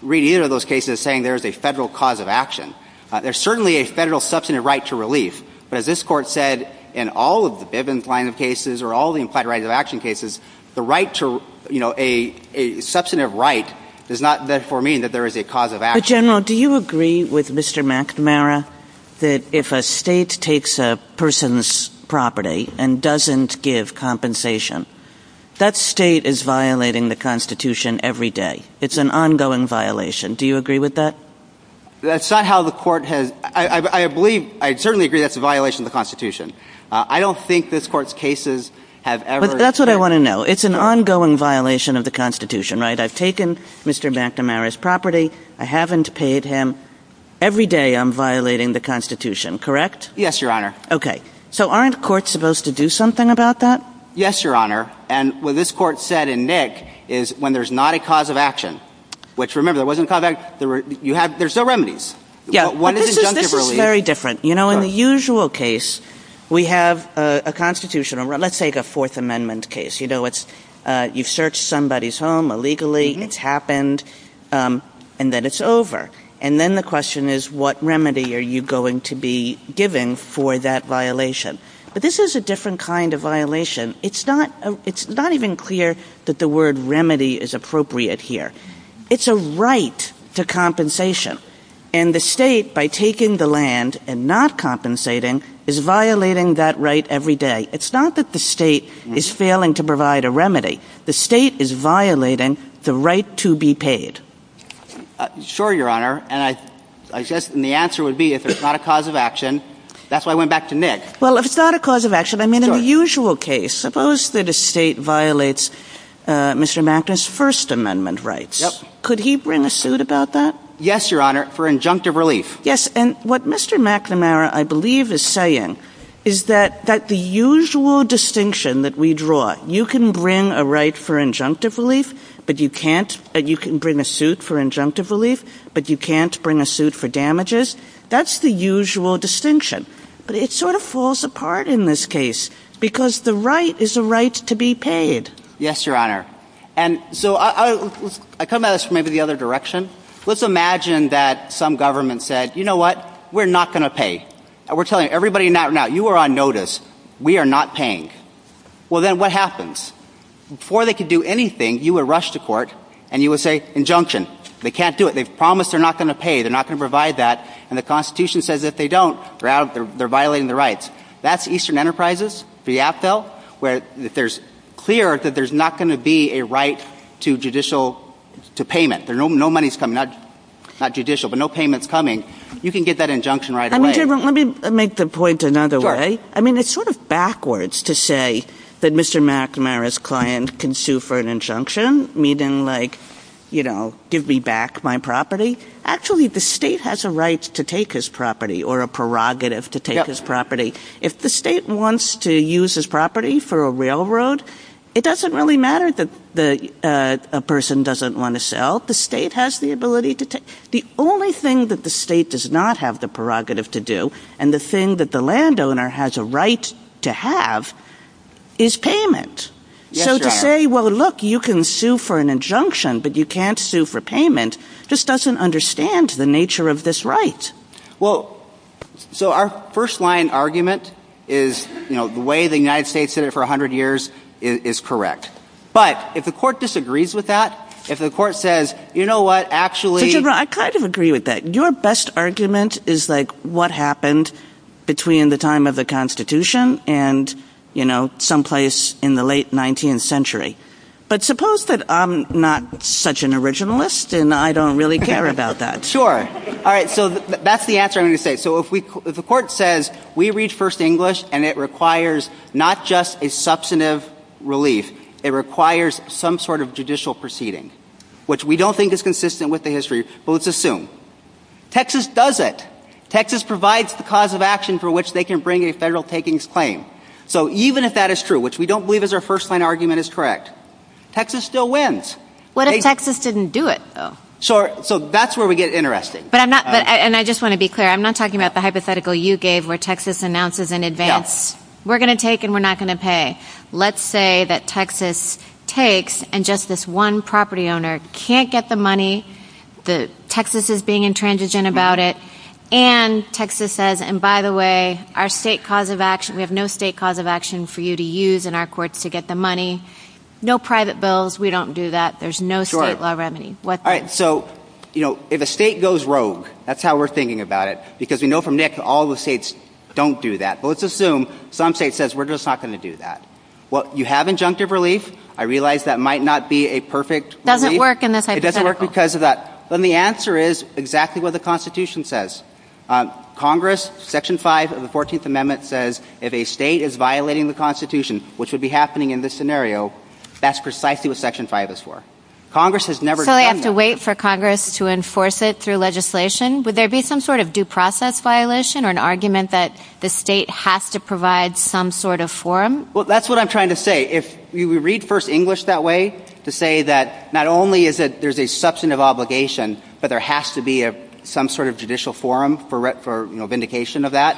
read either of those cases saying there is a federal cause of action. There's certainly a federal substantive right to relief. But as this Court said in all of the Bivens line of cases or all the implied rights of action cases, the right to, you know, a substantive right does not therefore mean that there is a cause of action. General, do you agree with Mr. McNamara that if a state takes a person's property and doesn't give compensation, that state is violating the Constitution every day? It's an ongoing violation. Do you agree with that? That's not how the Court has — I believe — I certainly agree that's a violation of the Constitution. I don't think this Court's cases have ever — But that's what I want to know. It's an ongoing violation of the Constitution, right? I've taken Mr. McNamara's property. I haven't paid him. Every day I'm violating the Constitution, correct? Yes, Your Honor. Okay. So aren't courts supposed to do something about that? Yes, Your Honor. And what this Court said in Nick is when there's not a cause of action — which, remember, there wasn't a cause of action. There's no remedies. Yeah, but this is very different. You know, in the usual case, we have a Constitution. Let's take a Fourth Amendment case. You know, it's — you've searched somebody's home illegally. It's happened. And then it's over. And then the question is, what remedy are you going to be giving for that violation? But this is a different kind of violation. It's not — it's not even clear that the word remedy is appropriate here. It's a right to compensation. And the state, by taking the land and not compensating, is violating that right every day. It's not that the state is failing to provide a remedy. The state is violating the right to be paid. Sure, Your Honor. And I — and the answer would be if it's not a cause of action. That's why I went back to Nick. Well, if it's not a cause of action, I mean, in the usual case, suppose that a state violates Mr. McNamara's First Amendment rights. Yep. Could he bring a suit about that? Yes, Your Honor, for injunctive relief. Yes. And what Mr. McNamara, I believe, is saying is that the usual distinction that we draw — you can bring a right for injunctive relief, but you can't — that you can bring a suit for injunctive relief, but you can't bring a suit for damages. That's the usual distinction. But it sort of falls apart in this case, because the right is a right to be paid. Yes, Your Honor. And so I come at this from maybe the other direction. Let's imagine that some government said, you know what? We're not going to pay. We're telling everybody now, you are on notice. We are not paying. Well, then what happens? Before they can do anything, you would rush to court and you would say, injunction. They can't do it. They've promised they're not going to pay. They're not going to provide that. And the Constitution says if they don't, they're violating their rights. That's Eastern Enterprises, the AFL, where it's clear that there's not going to be a right to judicial — to payment. No money's coming. Not judicial, but no payment's coming. You can get that injunction right away. I mean, let me make the point another way. I mean, it's sort of backwards to say that Mr. McNamara's client can sue for an injunction, meaning like, you know, give me back my property. Actually, the state has a right to take his property or a prerogative to take his property. If the state wants to use his property for a railroad, it doesn't really matter that a person doesn't want to sell. The state has the ability to take — the only thing that the state does not have the right to have is payment. So to say, well, look, you can sue for an injunction, but you can't sue for payment, just doesn't understand the nature of this right. Well, so our first-line argument is, you know, the way the United States did it for 100 years is correct. But if the court disagrees with that, if the court says, you know what, actually — But you're right. I kind of agree with that. Your best argument is, like, what happened between the time of the Constitution and, you know, someplace in the late 19th century. But suppose that I'm not such an originalist and I don't really care about that. Sure. All right. So that's the answer I'm going to say. So if the court says, we read First English and it requires not just a substantive relief, it requires some sort of judicial proceeding, which we don't think is consistent with the Texas does it. Texas provides the cause of action for which they can bring a federal takings claim. So even if that is true, which we don't believe is our first-line argument is correct, Texas still wins. What if Texas didn't do it, though? Sure. So that's where we get interesting. But I'm not — and I just want to be clear. I'm not talking about the hypothetical you gave where Texas announces in advance, we're going to take and we're not going to pay. Let's say that Texas takes and just this one property owner can't get the money, that Texas is being intransigent about it, and Texas says, and by the way, our state cause of action — we have no state cause of action for you to use in our courts to get the money. No private bills. We don't do that. There's no state law remedy. Sure. All right. So, you know, if a state goes rogue, that's how we're thinking about it, because we know from NIC all the states don't do that. But let's assume some state says, we're just not going to do that. Well, you have injunctive relief. I realize that might not be a perfect — Doesn't work in this hypothetical. Doesn't work because of that. Then the answer is exactly what the Constitution says. Congress, Section 5 of the 14th Amendment says, if a state is violating the Constitution, which would be happening in this scenario, that's precisely what Section 5 is for. Congress has never — So they have to wait for Congress to enforce it through legislation? Would there be some sort of due process violation or an argument that the state has to provide some sort of form? Well, that's what I'm trying to say. If we read First English that way, to say that not only is it — there's a substantive obligation, but there has to be some sort of judicial forum for vindication of that.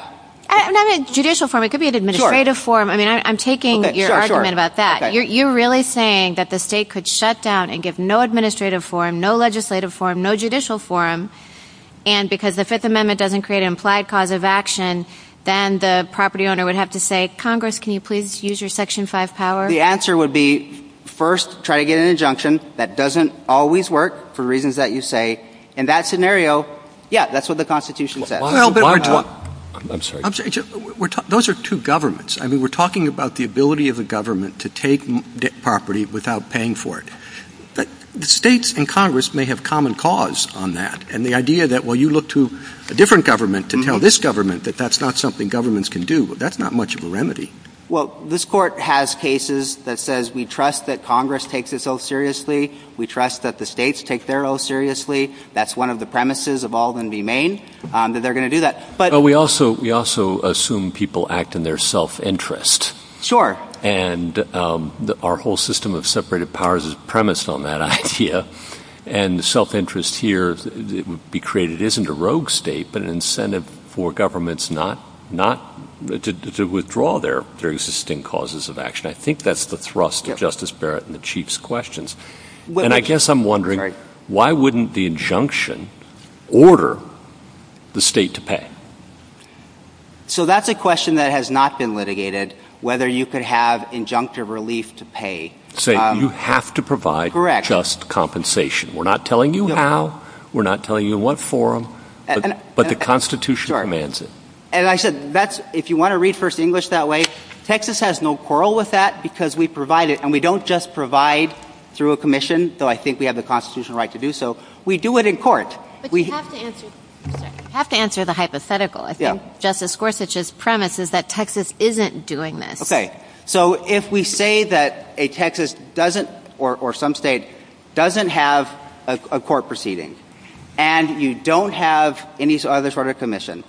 Not a judicial forum. It could be an administrative forum. I mean, I'm taking your argument about that. You're really saying that the state could shut down and get no administrative forum, no legislative forum, no judicial forum, and because the Fifth Amendment doesn't create an implied cause of action, then the property owner would have to say, Congress, can you please use your Section 5 power? The answer would be, first, try to get an injunction. That doesn't always work for reasons that you say. In that scenario, yeah, that's what the Constitution says. Well, but — I'm sorry. I'm sorry. Those are two governments. I mean, we're talking about the ability of the government to take property without paying for it. But the states and Congress may have common cause on that, and the idea that, well, you look to a different government to tell this government that that's not something governments can do, that's not much of a remedy. Well, this Court has cases that says we trust that Congress takes this ill seriously. We trust that the states take their ill seriously. That's one of the premises of all that remain, that they're going to do that. But — Well, we also assume people act in their self-interest. Sure. And our whole system of separated powers is premised on that idea. And the self-interest here that would be created isn't a rogue state, but an incentive for governments not — to withdraw their existing causes of action. I think that's the thrust of Justice Barrett and the Chief's questions. And I guess I'm wondering, why wouldn't the injunction order the state to pay? So that's a question that has not been litigated, whether you could have injunctive relief to pay. So you have to provide just compensation. We're not telling you how. We're not telling you what form. But the Constitution commands it. And I said, that's — if you want to read First English that way, Texas has no quarrel with that, because we provide it. And we don't just provide through a commission, though I think we have the constitutional right to do so. We do it in court. But you have to answer the hypothetical. I think Justice Gorsuch's premise is that Texas isn't doing this. OK. So if we say that a Texas doesn't — or some state — doesn't have a court proceeding, and you don't have any other sort of commission,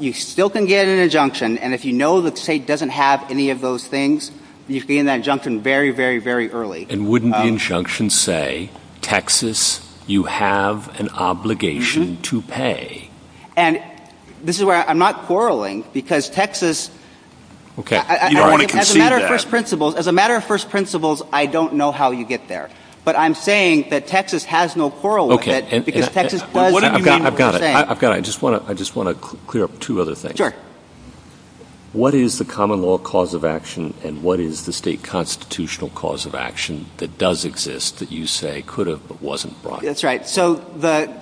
you still can get an injunction. And if you know the state doesn't have any of those things, you can get an injunction very, very, very early. And wouldn't the injunction say, Texas, you have an obligation to pay? And this is where — I'm not quarreling, because Texas — OK. You don't want to concede that. As a matter of first principles, I don't know how you get there. But I'm saying that Texas has no quarrel with it, because Texas does what you're saying. OK. I've got it. I've got it. I just want to clear up two other things. Sure. What is the common law cause of action? And what is the state constitutional cause of action that does exist that you say could have or wasn't brought? That's right. So the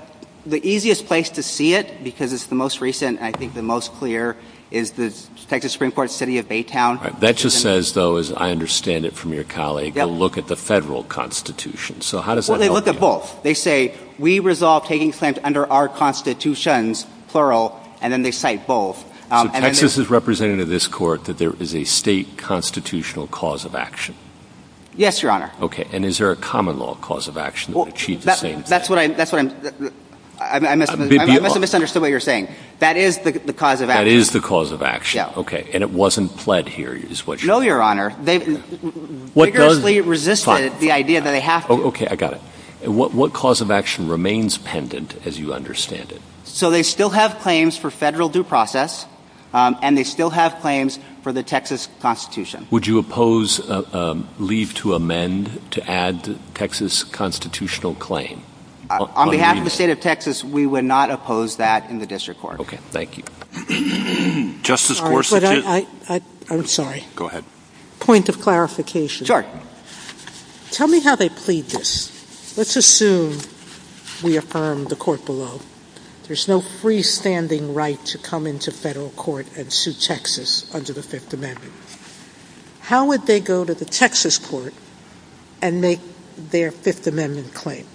easiest place to see it, because it's the most recent and I think the most clear, is the Texas Supreme Court's city of Baytown. That just says, though, as I understand it from your colleague, to look at the federal constitution. So how does that help? Well, they look at both. They say, we resolve taking offense under our constitutions, plural, and then they cite both. So Texas is representing to this court that there is a state constitutional cause of action? Yes, Your Honor. OK. And is there a common law cause of action that achieves the same thing? That's what I'm — I must have misunderstood what you're saying. That is the cause of action. That is the cause of action. OK. And it wasn't pled here, is what you're — No, Your Honor. They've vigorously resisted the idea that they have to. OK. I got it. And what cause of action remains pendant, as you understand it? So they still have claims for federal due process, and they still have claims for the Texas Constitution. Would you oppose a leave to amend to add the Texas constitutional claim? On behalf of the state of Texas, we would not oppose that in the district court. OK. Thank you. Justice Gorsuch — I'm sorry. Go ahead. Point of clarification. Sure. Tell me how they plead this. Let's assume we affirm the court below. There's no freestanding right to come into federal court and sue Texas under the Fifth Amendment. How would they go to the Texas court and make their Fifth Amendment claim?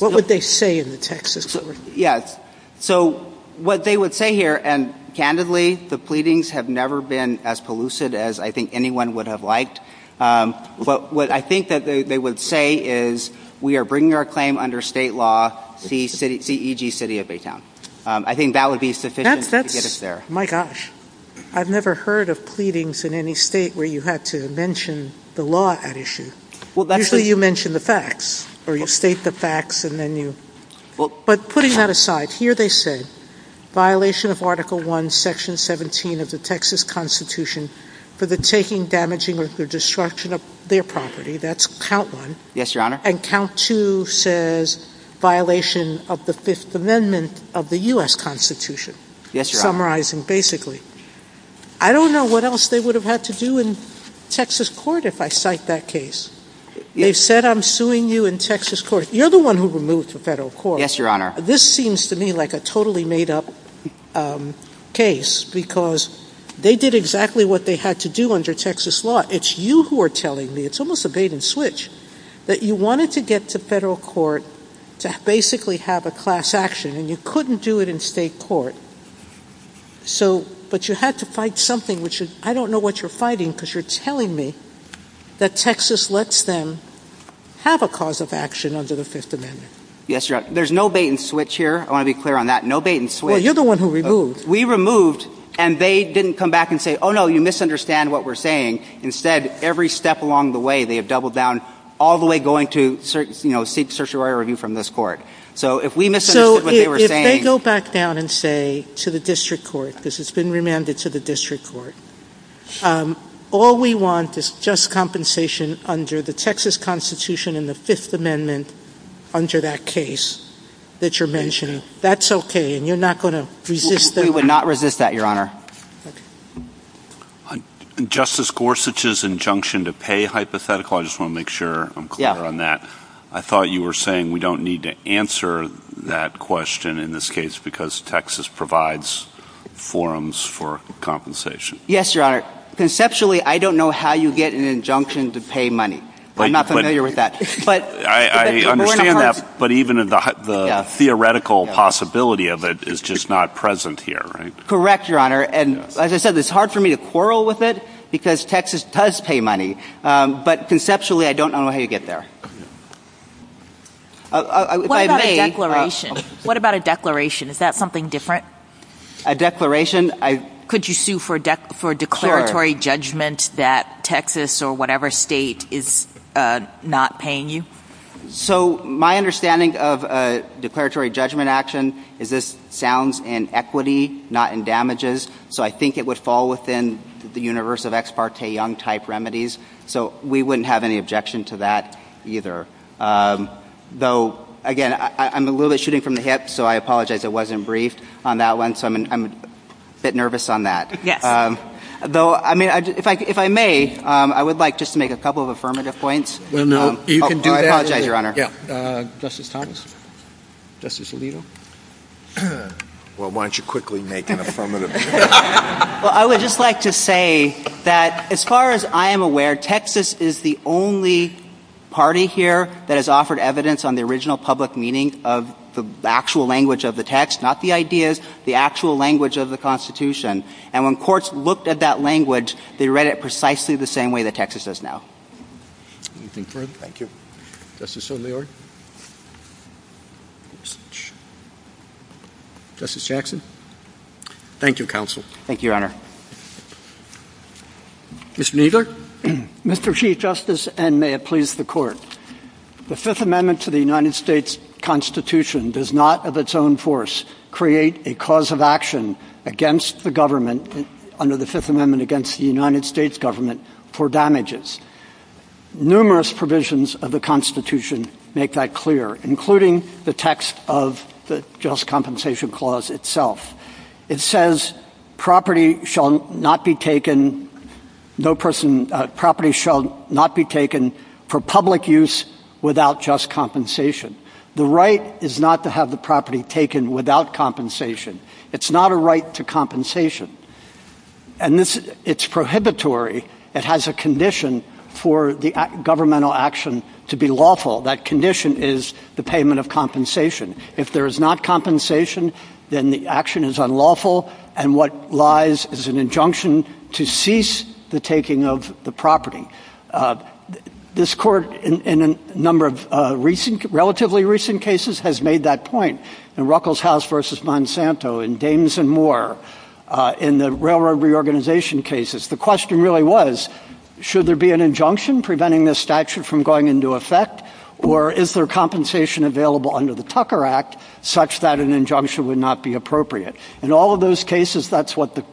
What would they say in the Texas court? Yes. So what they would say here — and candidly, the pleadings have never been as pellucid as I think anyone would have liked. But what I think that they would say is, we are bringing our claim under state law, C.E.G. City of Baytown. I think that would be sufficient to get us there. That's — my gosh. I've never heard of pleadings in any state where you have to mention the law at issue. Usually you mention the facts, or you state the facts, and then you — But putting that aside, here they say, violation of Article I, Section 17 of the Texas Constitution for the taking, damaging, or the destruction of their property. That's count one. Yes, Your Honor. And count two says violation of the Fifth Amendment of the U.S. Constitution. Yes, Your Honor. Summarizing, basically. I don't know what else they would have had to do in Texas court if I cite that case. They said, I'm suing you in Texas court. You're the one who removed the federal court. This seems to me like a totally made-up case, because they did exactly what they had to do under Texas law. It's you who are telling me — it's almost a bait-and-switch — that you wanted to get the federal court to basically have a class action, and you couldn't do it in state court. So — but you had to fight something, which is — I don't know what you're fighting, because you're telling me that Texas lets them have a cause of action under the Fifth Amendment. Yes, Your Honor. There's no bait-and-switch here. I want to be clear on that. No bait-and-switch. Well, you're the one who removed. We removed, and they didn't come back and say, oh, no, you misunderstand what we're saying. Instead, every step along the way, they have doubled down, all the way going to, you know, seek certiorari review from this court. So if we misunderstood what they were saying — So if they go back down and say to the district court — this has been remanded to the district court — all we want is just compensation under the Texas Constitution and the Fifth Amendment under that case that you're mentioning. That's okay, and you're not going to resist — We would not resist that, Your Honor. Justice Gorsuch's injunction to pay hypothetical — I just want to make sure I'm clear on that. I thought you were saying we don't need to answer that question in this case, because Texas provides forums for compensation. Yes, Your Honor. Conceptually, I don't know how you get an injunction to pay money. But I'm not familiar with that. I understand that, but even the theoretical possibility of it is just not present here, right? Correct, Your Honor. And as I said, it's hard for me to quarrel with it, because Texas does pay money. But conceptually, I don't know how you get there. What about a declaration? Is that something different? A declaration? Could you sue for a declaratory judgment that Texas or whatever state is not paying you? So my understanding of a declaratory judgment action is this sounds in equity, not in damages. So I think it would fall within the universe of Ex parte Young-type remedies. So we wouldn't have any objection to that, either. Though, again, I'm a little bit shooting from the hip, so I apologize I wasn't briefed on that one. So I'm a bit nervous on that. Though, if I may, I would like just to make a couple of affirmative points. No, no. You can do that. I apologize, Your Honor. Justice Thomas? Justice Alito? Well, why don't you quickly make an affirmative point? Well, I would just like to say that as far as I am aware, Texas is the only party here that has offered evidence on the original public meaning of the actual language of the text, not the ideas, the actual language of the Constitution. And when courts looked at that language, they read it precisely the same way that Texas does now. Anything further? Thank you. Justice O'Leary? Justice Jackson? Thank you, Counsel. Thank you, Your Honor. Mr. Kneedler? Mr. Chief Justice, and may it please the Court, the Fifth Amendment to the United States Constitution does not, of its own force, create a cause of action against the government under the Fifth Amendment against the United States government for damages. Numerous provisions of the Constitution make that clear, including the text of the Just Compensation Clause itself. It says property shall not be taken for public use without just compensation. The right is not to have the property taken without compensation. It's not a right to compensation. And it's prohibitory. It has a condition for the governmental action to be lawful. That condition is the payment of compensation. If there is not compensation, then the action is unlawful and what lies is an injunction to cease the taking of the property. This Court, in a number of relatively recent cases, has made that point. In Ruckelshaus v. Monsanto, in Danes v. Moore, in the railroad reorganization cases, the question really was, should there be an injunction preventing this statute from going into effect? Or is there compensation available under the Tucker Act such that an injunction would not be appropriate? In all of those cases, that's what the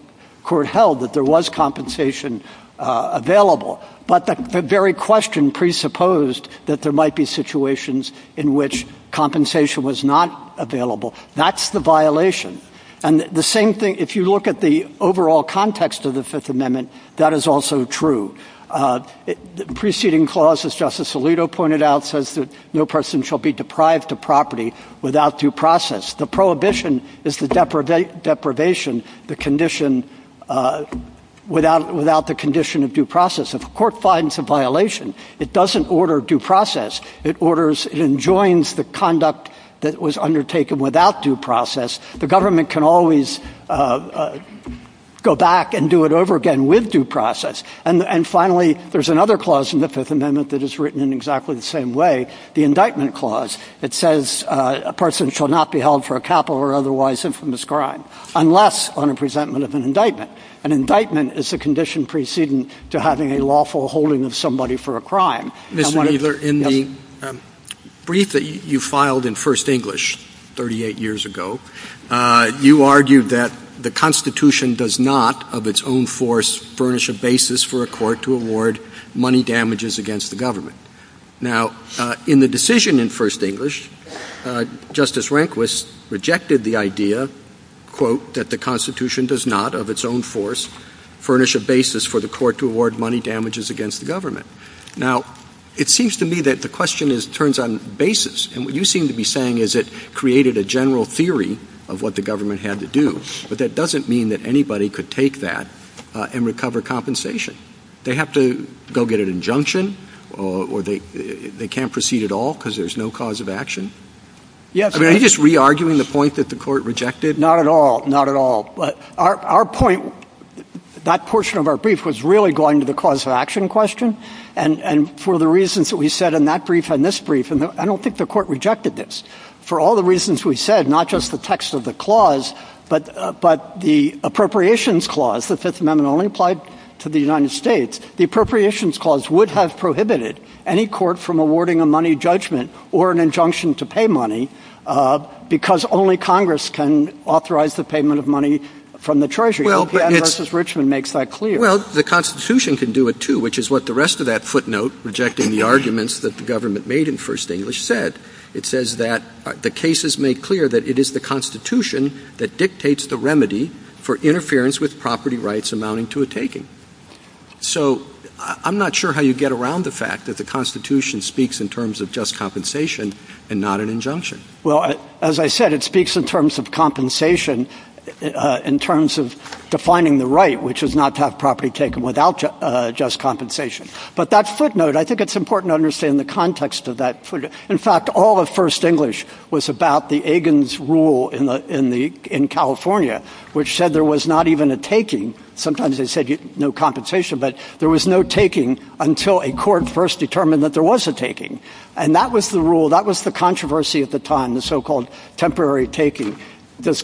Court held, that there was compensation available. But the very question presupposed that there might be situations in which compensation was not available. That's the violation. And the same thing, if you look at the overall context of the Fifth Amendment, that is also true. The preceding clause, as Justice Alito pointed out, says that no person shall be deprived of property without due process. The prohibition is the deprivation without the condition of due process. If a court finds a violation, it doesn't order due process. It enjoins the conduct that was undertaken without due process. The government can always go back and do it over again with due process. And finally, there's another clause in the Fifth Amendment that is written in exactly the same way, the indictment clause. It says a person shall not be held for a capital or otherwise infamous crime unless on a presentment of an indictment. An indictment is the condition preceding to having a lawful holding of somebody for a crime. Mr. Weiler, in the brief that you filed in First English 38 years ago, you argued that the Constitution does not, of its own force, furnish a basis for a court to award money damages against the government. Now, in the decision in First English, Justice Rehnquist rejected the idea, quote, that the Constitution does not, of its own force, furnish a basis for the court to award money damages against the government. Now, it seems to me that the question turns on basis. And what you seem to be saying is it doesn't mean that anybody could take that and recover compensation. They have to go get an injunction or they can't proceed at all because there's no cause of action? Yes. I mean, are you just re-arguing the point that the court rejected? Not at all. Not at all. But our point, that portion of our brief was really going to the cause of action question. And for the reasons that we said in that brief and this brief, I don't think the court rejected this. For all the reasons we said, not just the text of the clause, but the Appropriations Clause, the Fifth Amendment only applied to the United States, the Appropriations Clause would have prohibited any court from awarding a money judgment or an injunction to pay money because only Congress can authorize the payment of money from the Treasury. Well, but it's— I hope you and Mrs. Richmond makes that clear. Well, the Constitution can do it, too, which is what the rest of that footnote, rejecting the arguments that the government made in First English, said. It says that the cases make clear that it is the Constitution that dictates the remedy for interference with property rights amounting to a taking. So I'm not sure how you get around the fact that the Constitution speaks in terms of just compensation and not an injunction. Well, as I said, it speaks in terms of compensation, in terms of defining the right, which is not to have property taken without just compensation. But that footnote, I think it's important to understand the context of that footnote. In fact, all of First English was about the Egan's Rule in California, which said there was not even a taking. Sometimes they said no compensation, but there was no taking until a court first determined that there was a taking. And that was the rule, that was the controversy at the time, the so-called temporary taking. Does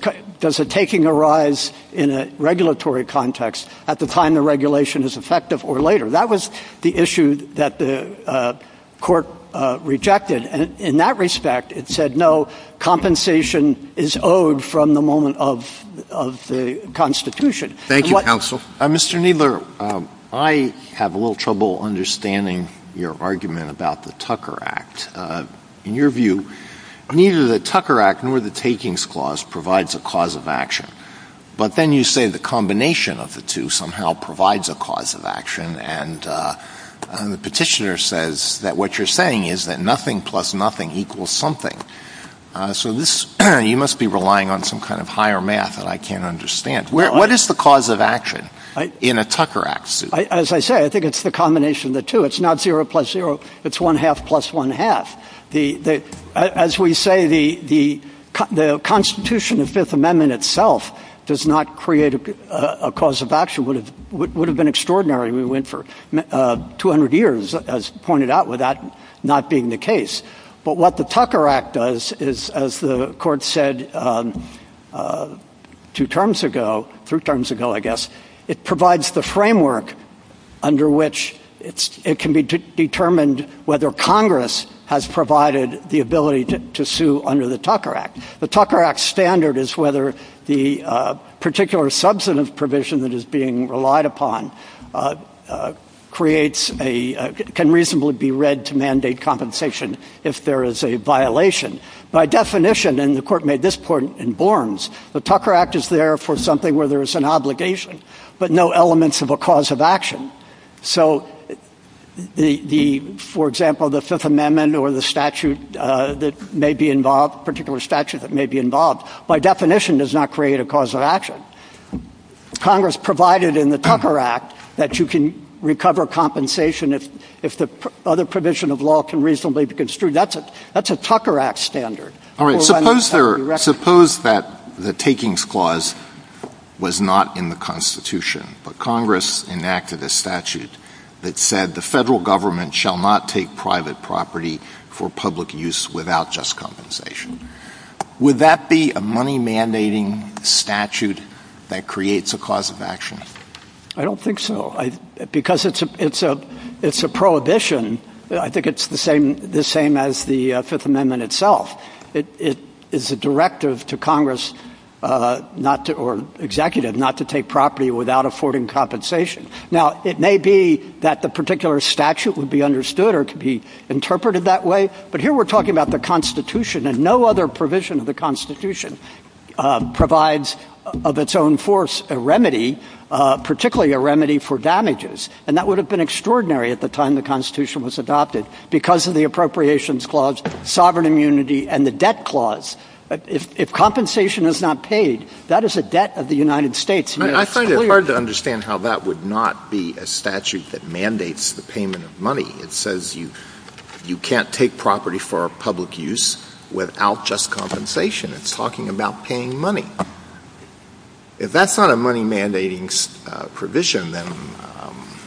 a taking arise in a regulatory context at the time the regulation is effective or later? That was the issue that the court rejected. And in that respect, it said no, compensation is owed from the moment of the Constitution. Thank you, counsel. Mr. Kneedler, I have a little trouble understanding your argument about the Tucker Act. In your view, neither the Tucker Act nor the Takings Clause provides a cause of action. But then you say the combination of the two somehow provides a cause of action. And the petitioner says that what you're saying is that nothing plus nothing equals something. So you must be relying on some kind of higher math that I can't understand. What is the cause of action in a Tucker Act suit? As I say, I think it's the combination of the two. It's not zero plus zero. It's one-half plus one-half. As we say, the Constitution of the Fifth Amendment itself does not create a cause of action. It would have been extraordinary if we went for 200 years, as pointed out, with that not being the case. But what the Tucker Act does is, as the court said two terms ago, three terms ago, I guess, it provides the framework under which it can be determined whether Congress has provided the ability to sue under the Tucker Act. The Tucker Act's standard is whether the particular substantive provision that is being relied upon can reasonably be read to mandate compensation if there is a violation. By definition, and the court made this point in Borns, the Tucker Act is there for something where there is an obligation, but no elements of a cause of action. So the, for example, the Fifth Amendment or the statute that may be involved, particular statute that may be involved, by definition does not create a cause of action. Congress provided in the Tucker Act that you can recover compensation if the other provision of law can reasonably be construed. That's a Tucker Act standard. All right. Suppose there, suppose that the takings clause was not in the Constitution, but Congress enacted a statute that said the federal government shall not take private property for public use without just compensation. Would that be a money mandating statute that creates a cause of action? I don't think so. I, because it's a, it's a, it's a prohibition. I think it's the same, the same as the Fifth Amendment itself. It is a directive to Congress not to, or executive, not to take property without affording compensation. Now, it may be that the particular statute would be understood or to be interpreted that way, but here we're talking about the Constitution and no other provision of the Constitution provides of its own force a remedy, particularly a remedy for damages. And that would have been extraordinary at the time the Constitution was adopted because of the Appropriations Clause, Sovereign Immunity, and the Debt Clause. If compensation is not paid, that is a debt of the United States. I find it hard to understand how that would not be a statute that mandates the payment of money. It says you, you can't take property for public use without just compensation. It's talking about paying money. If that's not a money mandating provision, then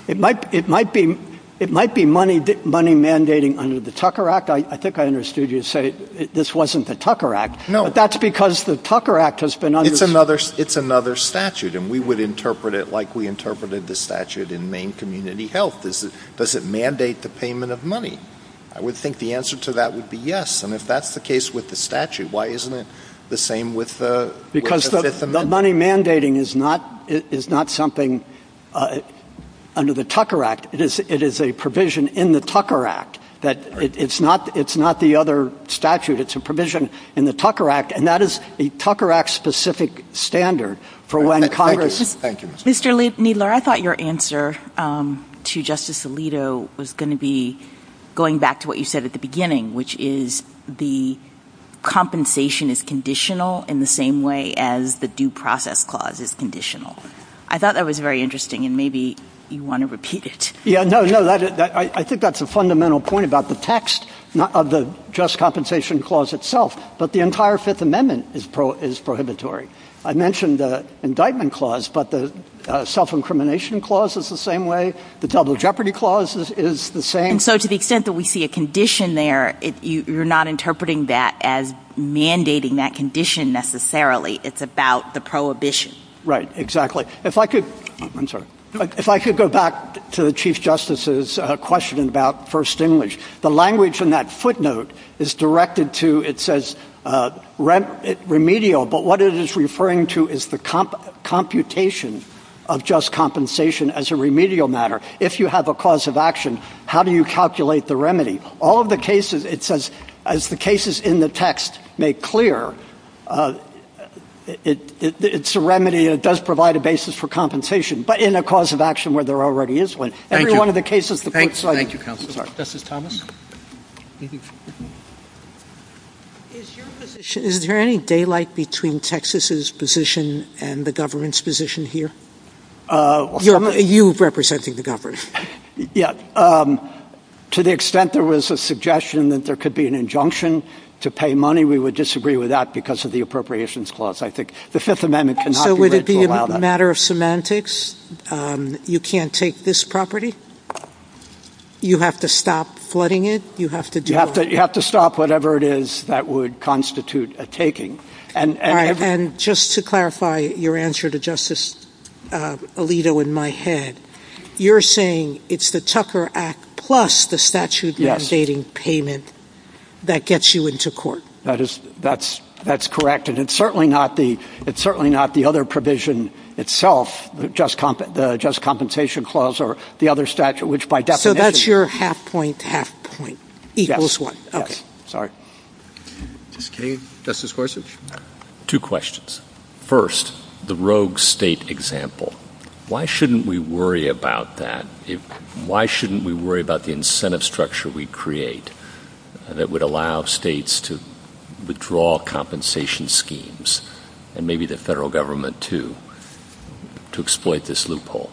it might, it might be, it might be money, money mandating under the Tucker Act. I think I understood you say this wasn't the Tucker Act. No. But that's because the Tucker Act has been understood. It's another, it's another statute and we would interpret it like we interpreted the statute in Maine Community Health. Does it mandate the payment of money? I would think the answer to that would be yes. And if that's the case with the statute, why isn't it the same because the money mandating is not, is not something under the Tucker Act. It is, it is a provision in the Tucker Act that it's not, it's not the other statute. It's a provision in the Tucker Act and that is a Tucker Act specific standard for when Congress. Thank you. Mr. Needler, I thought your answer to Justice Alito was going to be going back to what you said at the beginning, which is the compensation is conditional in the same way as the due process clause is conditional. I thought that was very interesting and maybe you want to repeat it. Yeah, no, no. I think that's a fundamental point about the text of the just compensation clause itself, but the entire fifth amendment is pro is prohibitory. I mentioned the indictment clause, but the self-incrimination clause is the same way. The double jeopardy clauses is the same. So to the extent that we see a condition there, if you're not interpreting that as mandating that condition necessarily, it's about the prohibition. Right, exactly. If I could, I'm sorry. If I could go back to the chief justice's question about first English, the language in that footnote is directed to, it says remedial, but what it is referring to is the computation of just compensation as a remedial matter. If you have a cause of action, how do you calculate the remedy? All of the cases, it says, as the cases in the text make clear, it's a remedy and it does provide a basis for compensation, but in a cause of action where there already is one. Every one of the cases. Thank you counsel. This is Thomas. Is there any daylight between Texas's position and the government's position here? You representing the government? Yeah. To the extent there was a suggestion that there could be an injunction to pay money, we would disagree with that because of the appropriations clause. I think the fifth amendment cannot be read to allow that. So would it be a matter of semantics? You can't take this property? You have to stop flooding it? You have to stop whatever it is that would constitute a taking. Just to clarify your answer to Justice Alito in my head, you're saying it's the Tucker Act plus the statute mandating payment that gets you into court? That's correct. And it's certainly not the other provision itself, just compensation clause or the other statute, which by definition- So that's your half point, half point equals one. Yes. Okay. Sorry. Justice Gorsuch? Two questions. First, the rogue state example. Why shouldn't we worry about that? Why shouldn't we worry about the incentive structure we create that would allow states to withdraw compensation schemes and maybe the federal government too to exploit this loophole?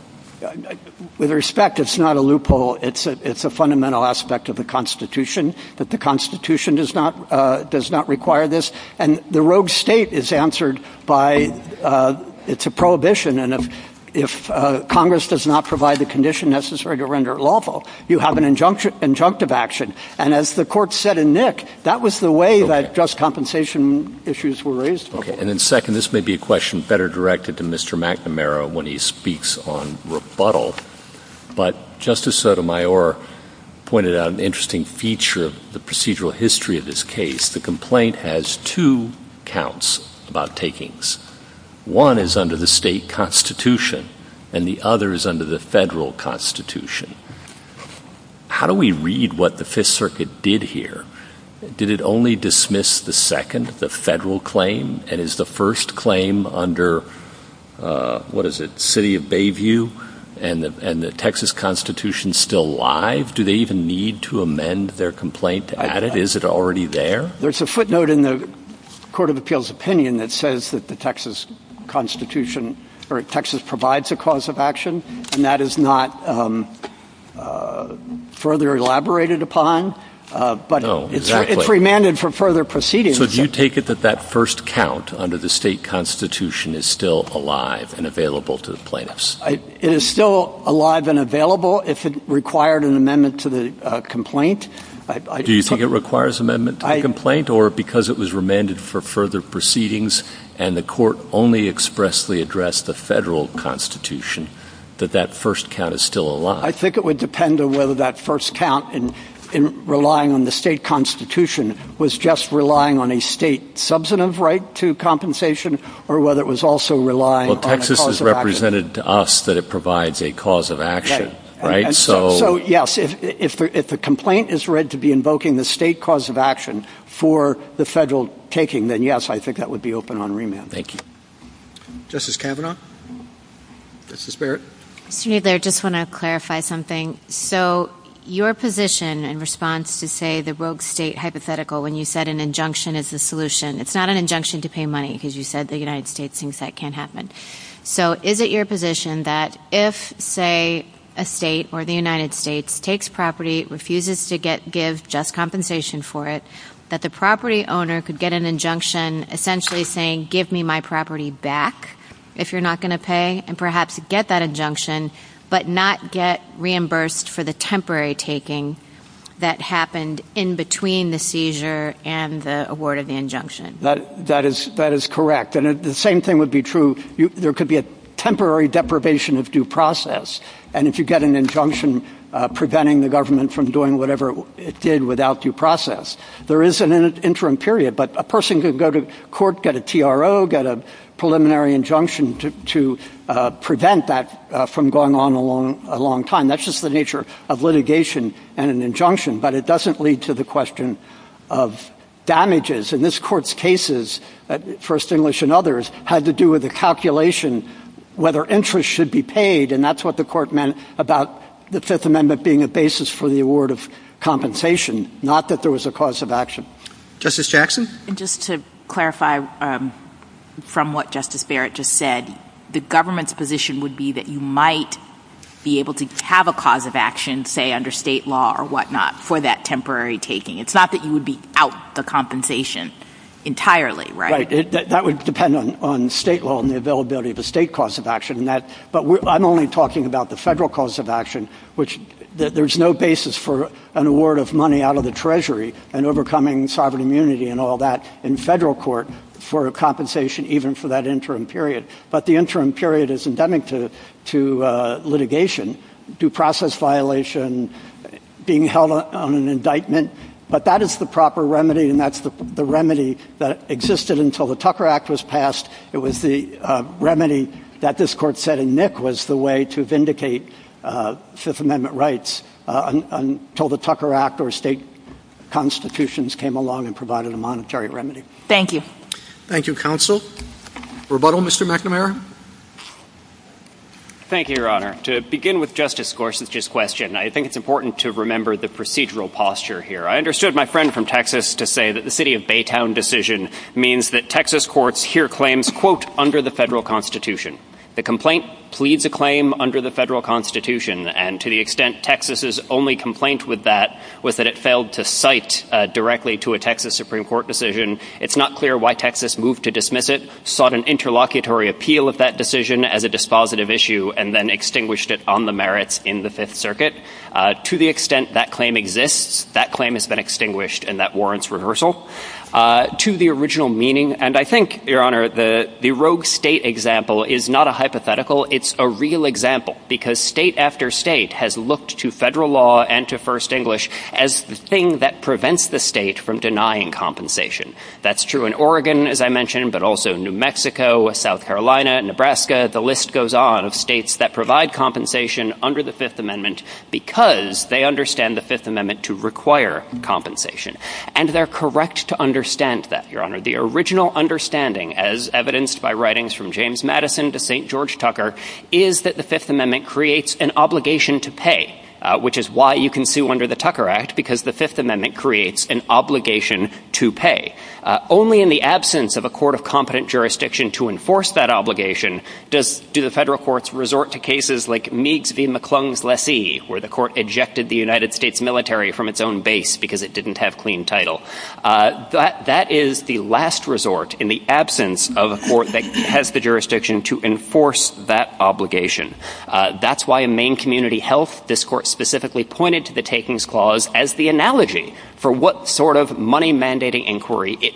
With respect, it's not a loophole. It's a fundamental aspect of the Constitution that the Constitution does not require this. And the rogue state is answered by, it's a prohibition. And if Congress does not provide the condition necessary to render it lawful, you have an injunctive action. And as the court said in Nick, that was the way that just compensation issues were raised. Okay. And then second, this may be a question better directed to Mr. McNamara when he speaks on rebuttal, but Justice Sotomayor pointed out an interesting feature of the procedural history of this case. The complaint has two counts about takings. One is under the state constitution and the other is under the federal constitution. How do we read what the fifth circuit did here? Did it only dismiss the second, the federal claim? And is the first claim under, what is it, city of Bayview and the Texas constitution still live? Do they even need to amend their complaint to add it? Is it already there? There's a footnote in the court of appeals opinion that says that the Texas constitution or Texas provides a cause of action and that is not further elaborated upon, but it's remanded for further proceedings. So do you take it that that first count under the state constitution is still alive and available to the plaintiffs? It is still alive and available if it required an amendment to the complaint. Do you think it requires amendment to the complaint or because it was remanded for further proceedings and the court only expressly addressed the federal constitution that that first count is still alive? I think it would depend on whether that first count in relying on the state constitution was just relying on a state substantive right to compensation or whether it was also relying on the cause of action. Well, Texas has represented to us that it provides a cause of action, right? So yes, if the complaint is read to be invoking the state cause of action for the federal taking, then yes, I think that would be open on remand. Thank you. Justice Kavanaugh. Justice Barrett. Just to clarify something. So your position in response to say the rogue state hypothetical, when you said an injunction is the solution, it's not an injunction to pay money because you said the United States thinks that can't happen. So is it your position that if, say, a state or the United States takes property, refuses to give just compensation for it, that the property owner could get an injunction essentially saying, give me my property back if you're not going to pay and perhaps get that injunction, but not get reimbursed for the temporary taking that happened in between the seizure and the award of the injunction? That is correct. And the same thing would be true. There could be a temporary deprivation of due process. And if you get an injunction preventing the government from doing whatever it did without due process, there is an interim period. But a person could go to court, get a TRO, get a preliminary injunction to prevent that from going on a long time. That's just the nature of litigation and an injunction. But it doesn't lead to the question of damages. And this Court's cases, First English and others, had to do with the calculation whether interest should be paid. And that's what the Court meant about the Fifth Amendment being a basis for the award of compensation, not that there was a cause of action. Justice Jackson? Just to clarify from what Justice Barrett just said, the government's position would be that you would be out the compensation entirely, right? Right. That would depend on state law and the availability of a state cause of action. But I'm only talking about the federal cause of action, which there's no basis for an award of money out of the Treasury and overcoming sovereign immunity and all that in federal court for compensation even for that interim period. But the interim period is endemic to litigation, due process violation, being held on an indictment. But that is the proper remedy, and that's the remedy that existed until the Tucker Act was passed. It was the remedy that this Court said in Nick was the way to vindicate Fifth Amendment rights until the Tucker Act or state constitutions came along and provided a monetary remedy. Thank you. Thank you, Counsel. Rebuttal, Mr. McNamara? Thank you, Your Honor. To begin with Justice Gorsuch's question, I think it's important to remember the procedural posture here. I understood my friend from Texas to say that the city of Baytown decision means that Texas courts hear claims, quote, under the federal constitution. The complaint pleads a claim under the federal constitution, and to the extent Texas's only complaint with that was that it failed to cite directly to a Texas Supreme Court decision. It's not clear why Texas moved to dismiss it, sought an interlocutory appeal against it, that decision as a dispositive issue, and then extinguished it on the merits in the Fifth Circuit. To the extent that claim exists, that claim has been extinguished, and that warrants rehearsal. To the original meaning, and I think, Your Honor, the rogue state example is not a hypothetical. It's a real example, because state after state has looked to federal law and to first English as the thing that prevents the state from denying compensation. That's true in Oregon, as I mentioned, but also New Mexico, South Carolina, Nebraska, the list goes on of states that provide compensation under the Fifth Amendment because they understand the Fifth Amendment to require compensation, and they're correct to understand that, Your Honor. The original understanding, as evidenced by writings from James Madison to St. George Tucker, is that the Fifth Amendment creates an obligation to pay, which is why you can sue under the Tucker Act, because the Fifth Amendment creates an obligation to pay. Only in the absence of a court of competent jurisdiction to enforce that obligation do the federal courts resort to cases like Meade v. McClung's Lessee, where the court ejected the United States military from its own base because it didn't have clean title. That is the last resort in the absence of a court that has the jurisdiction to enforce that obligation. That's why in Maine Community Health, this court specifically pointed to the it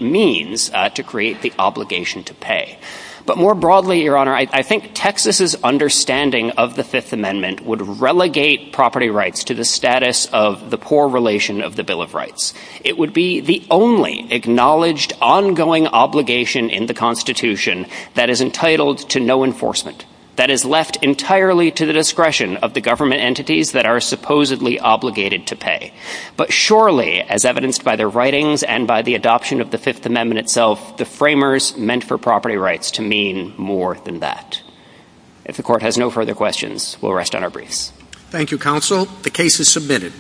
means to create the obligation to pay. But more broadly, Your Honor, I think Texas's understanding of the Fifth Amendment would relegate property rights to the status of the core relation of the Bill of Rights. It would be the only acknowledged ongoing obligation in the Constitution that is entitled to no enforcement, that is left entirely to the discretion of the government entities that are supposedly obligated to pay. But surely, as evidenced by their writings and by the adoption of the Fifth Amendment itself, the framers meant for property rights to mean more than that. If the court has no further questions, we'll rest on our briefs. Thank you, counsel. The case is submitted.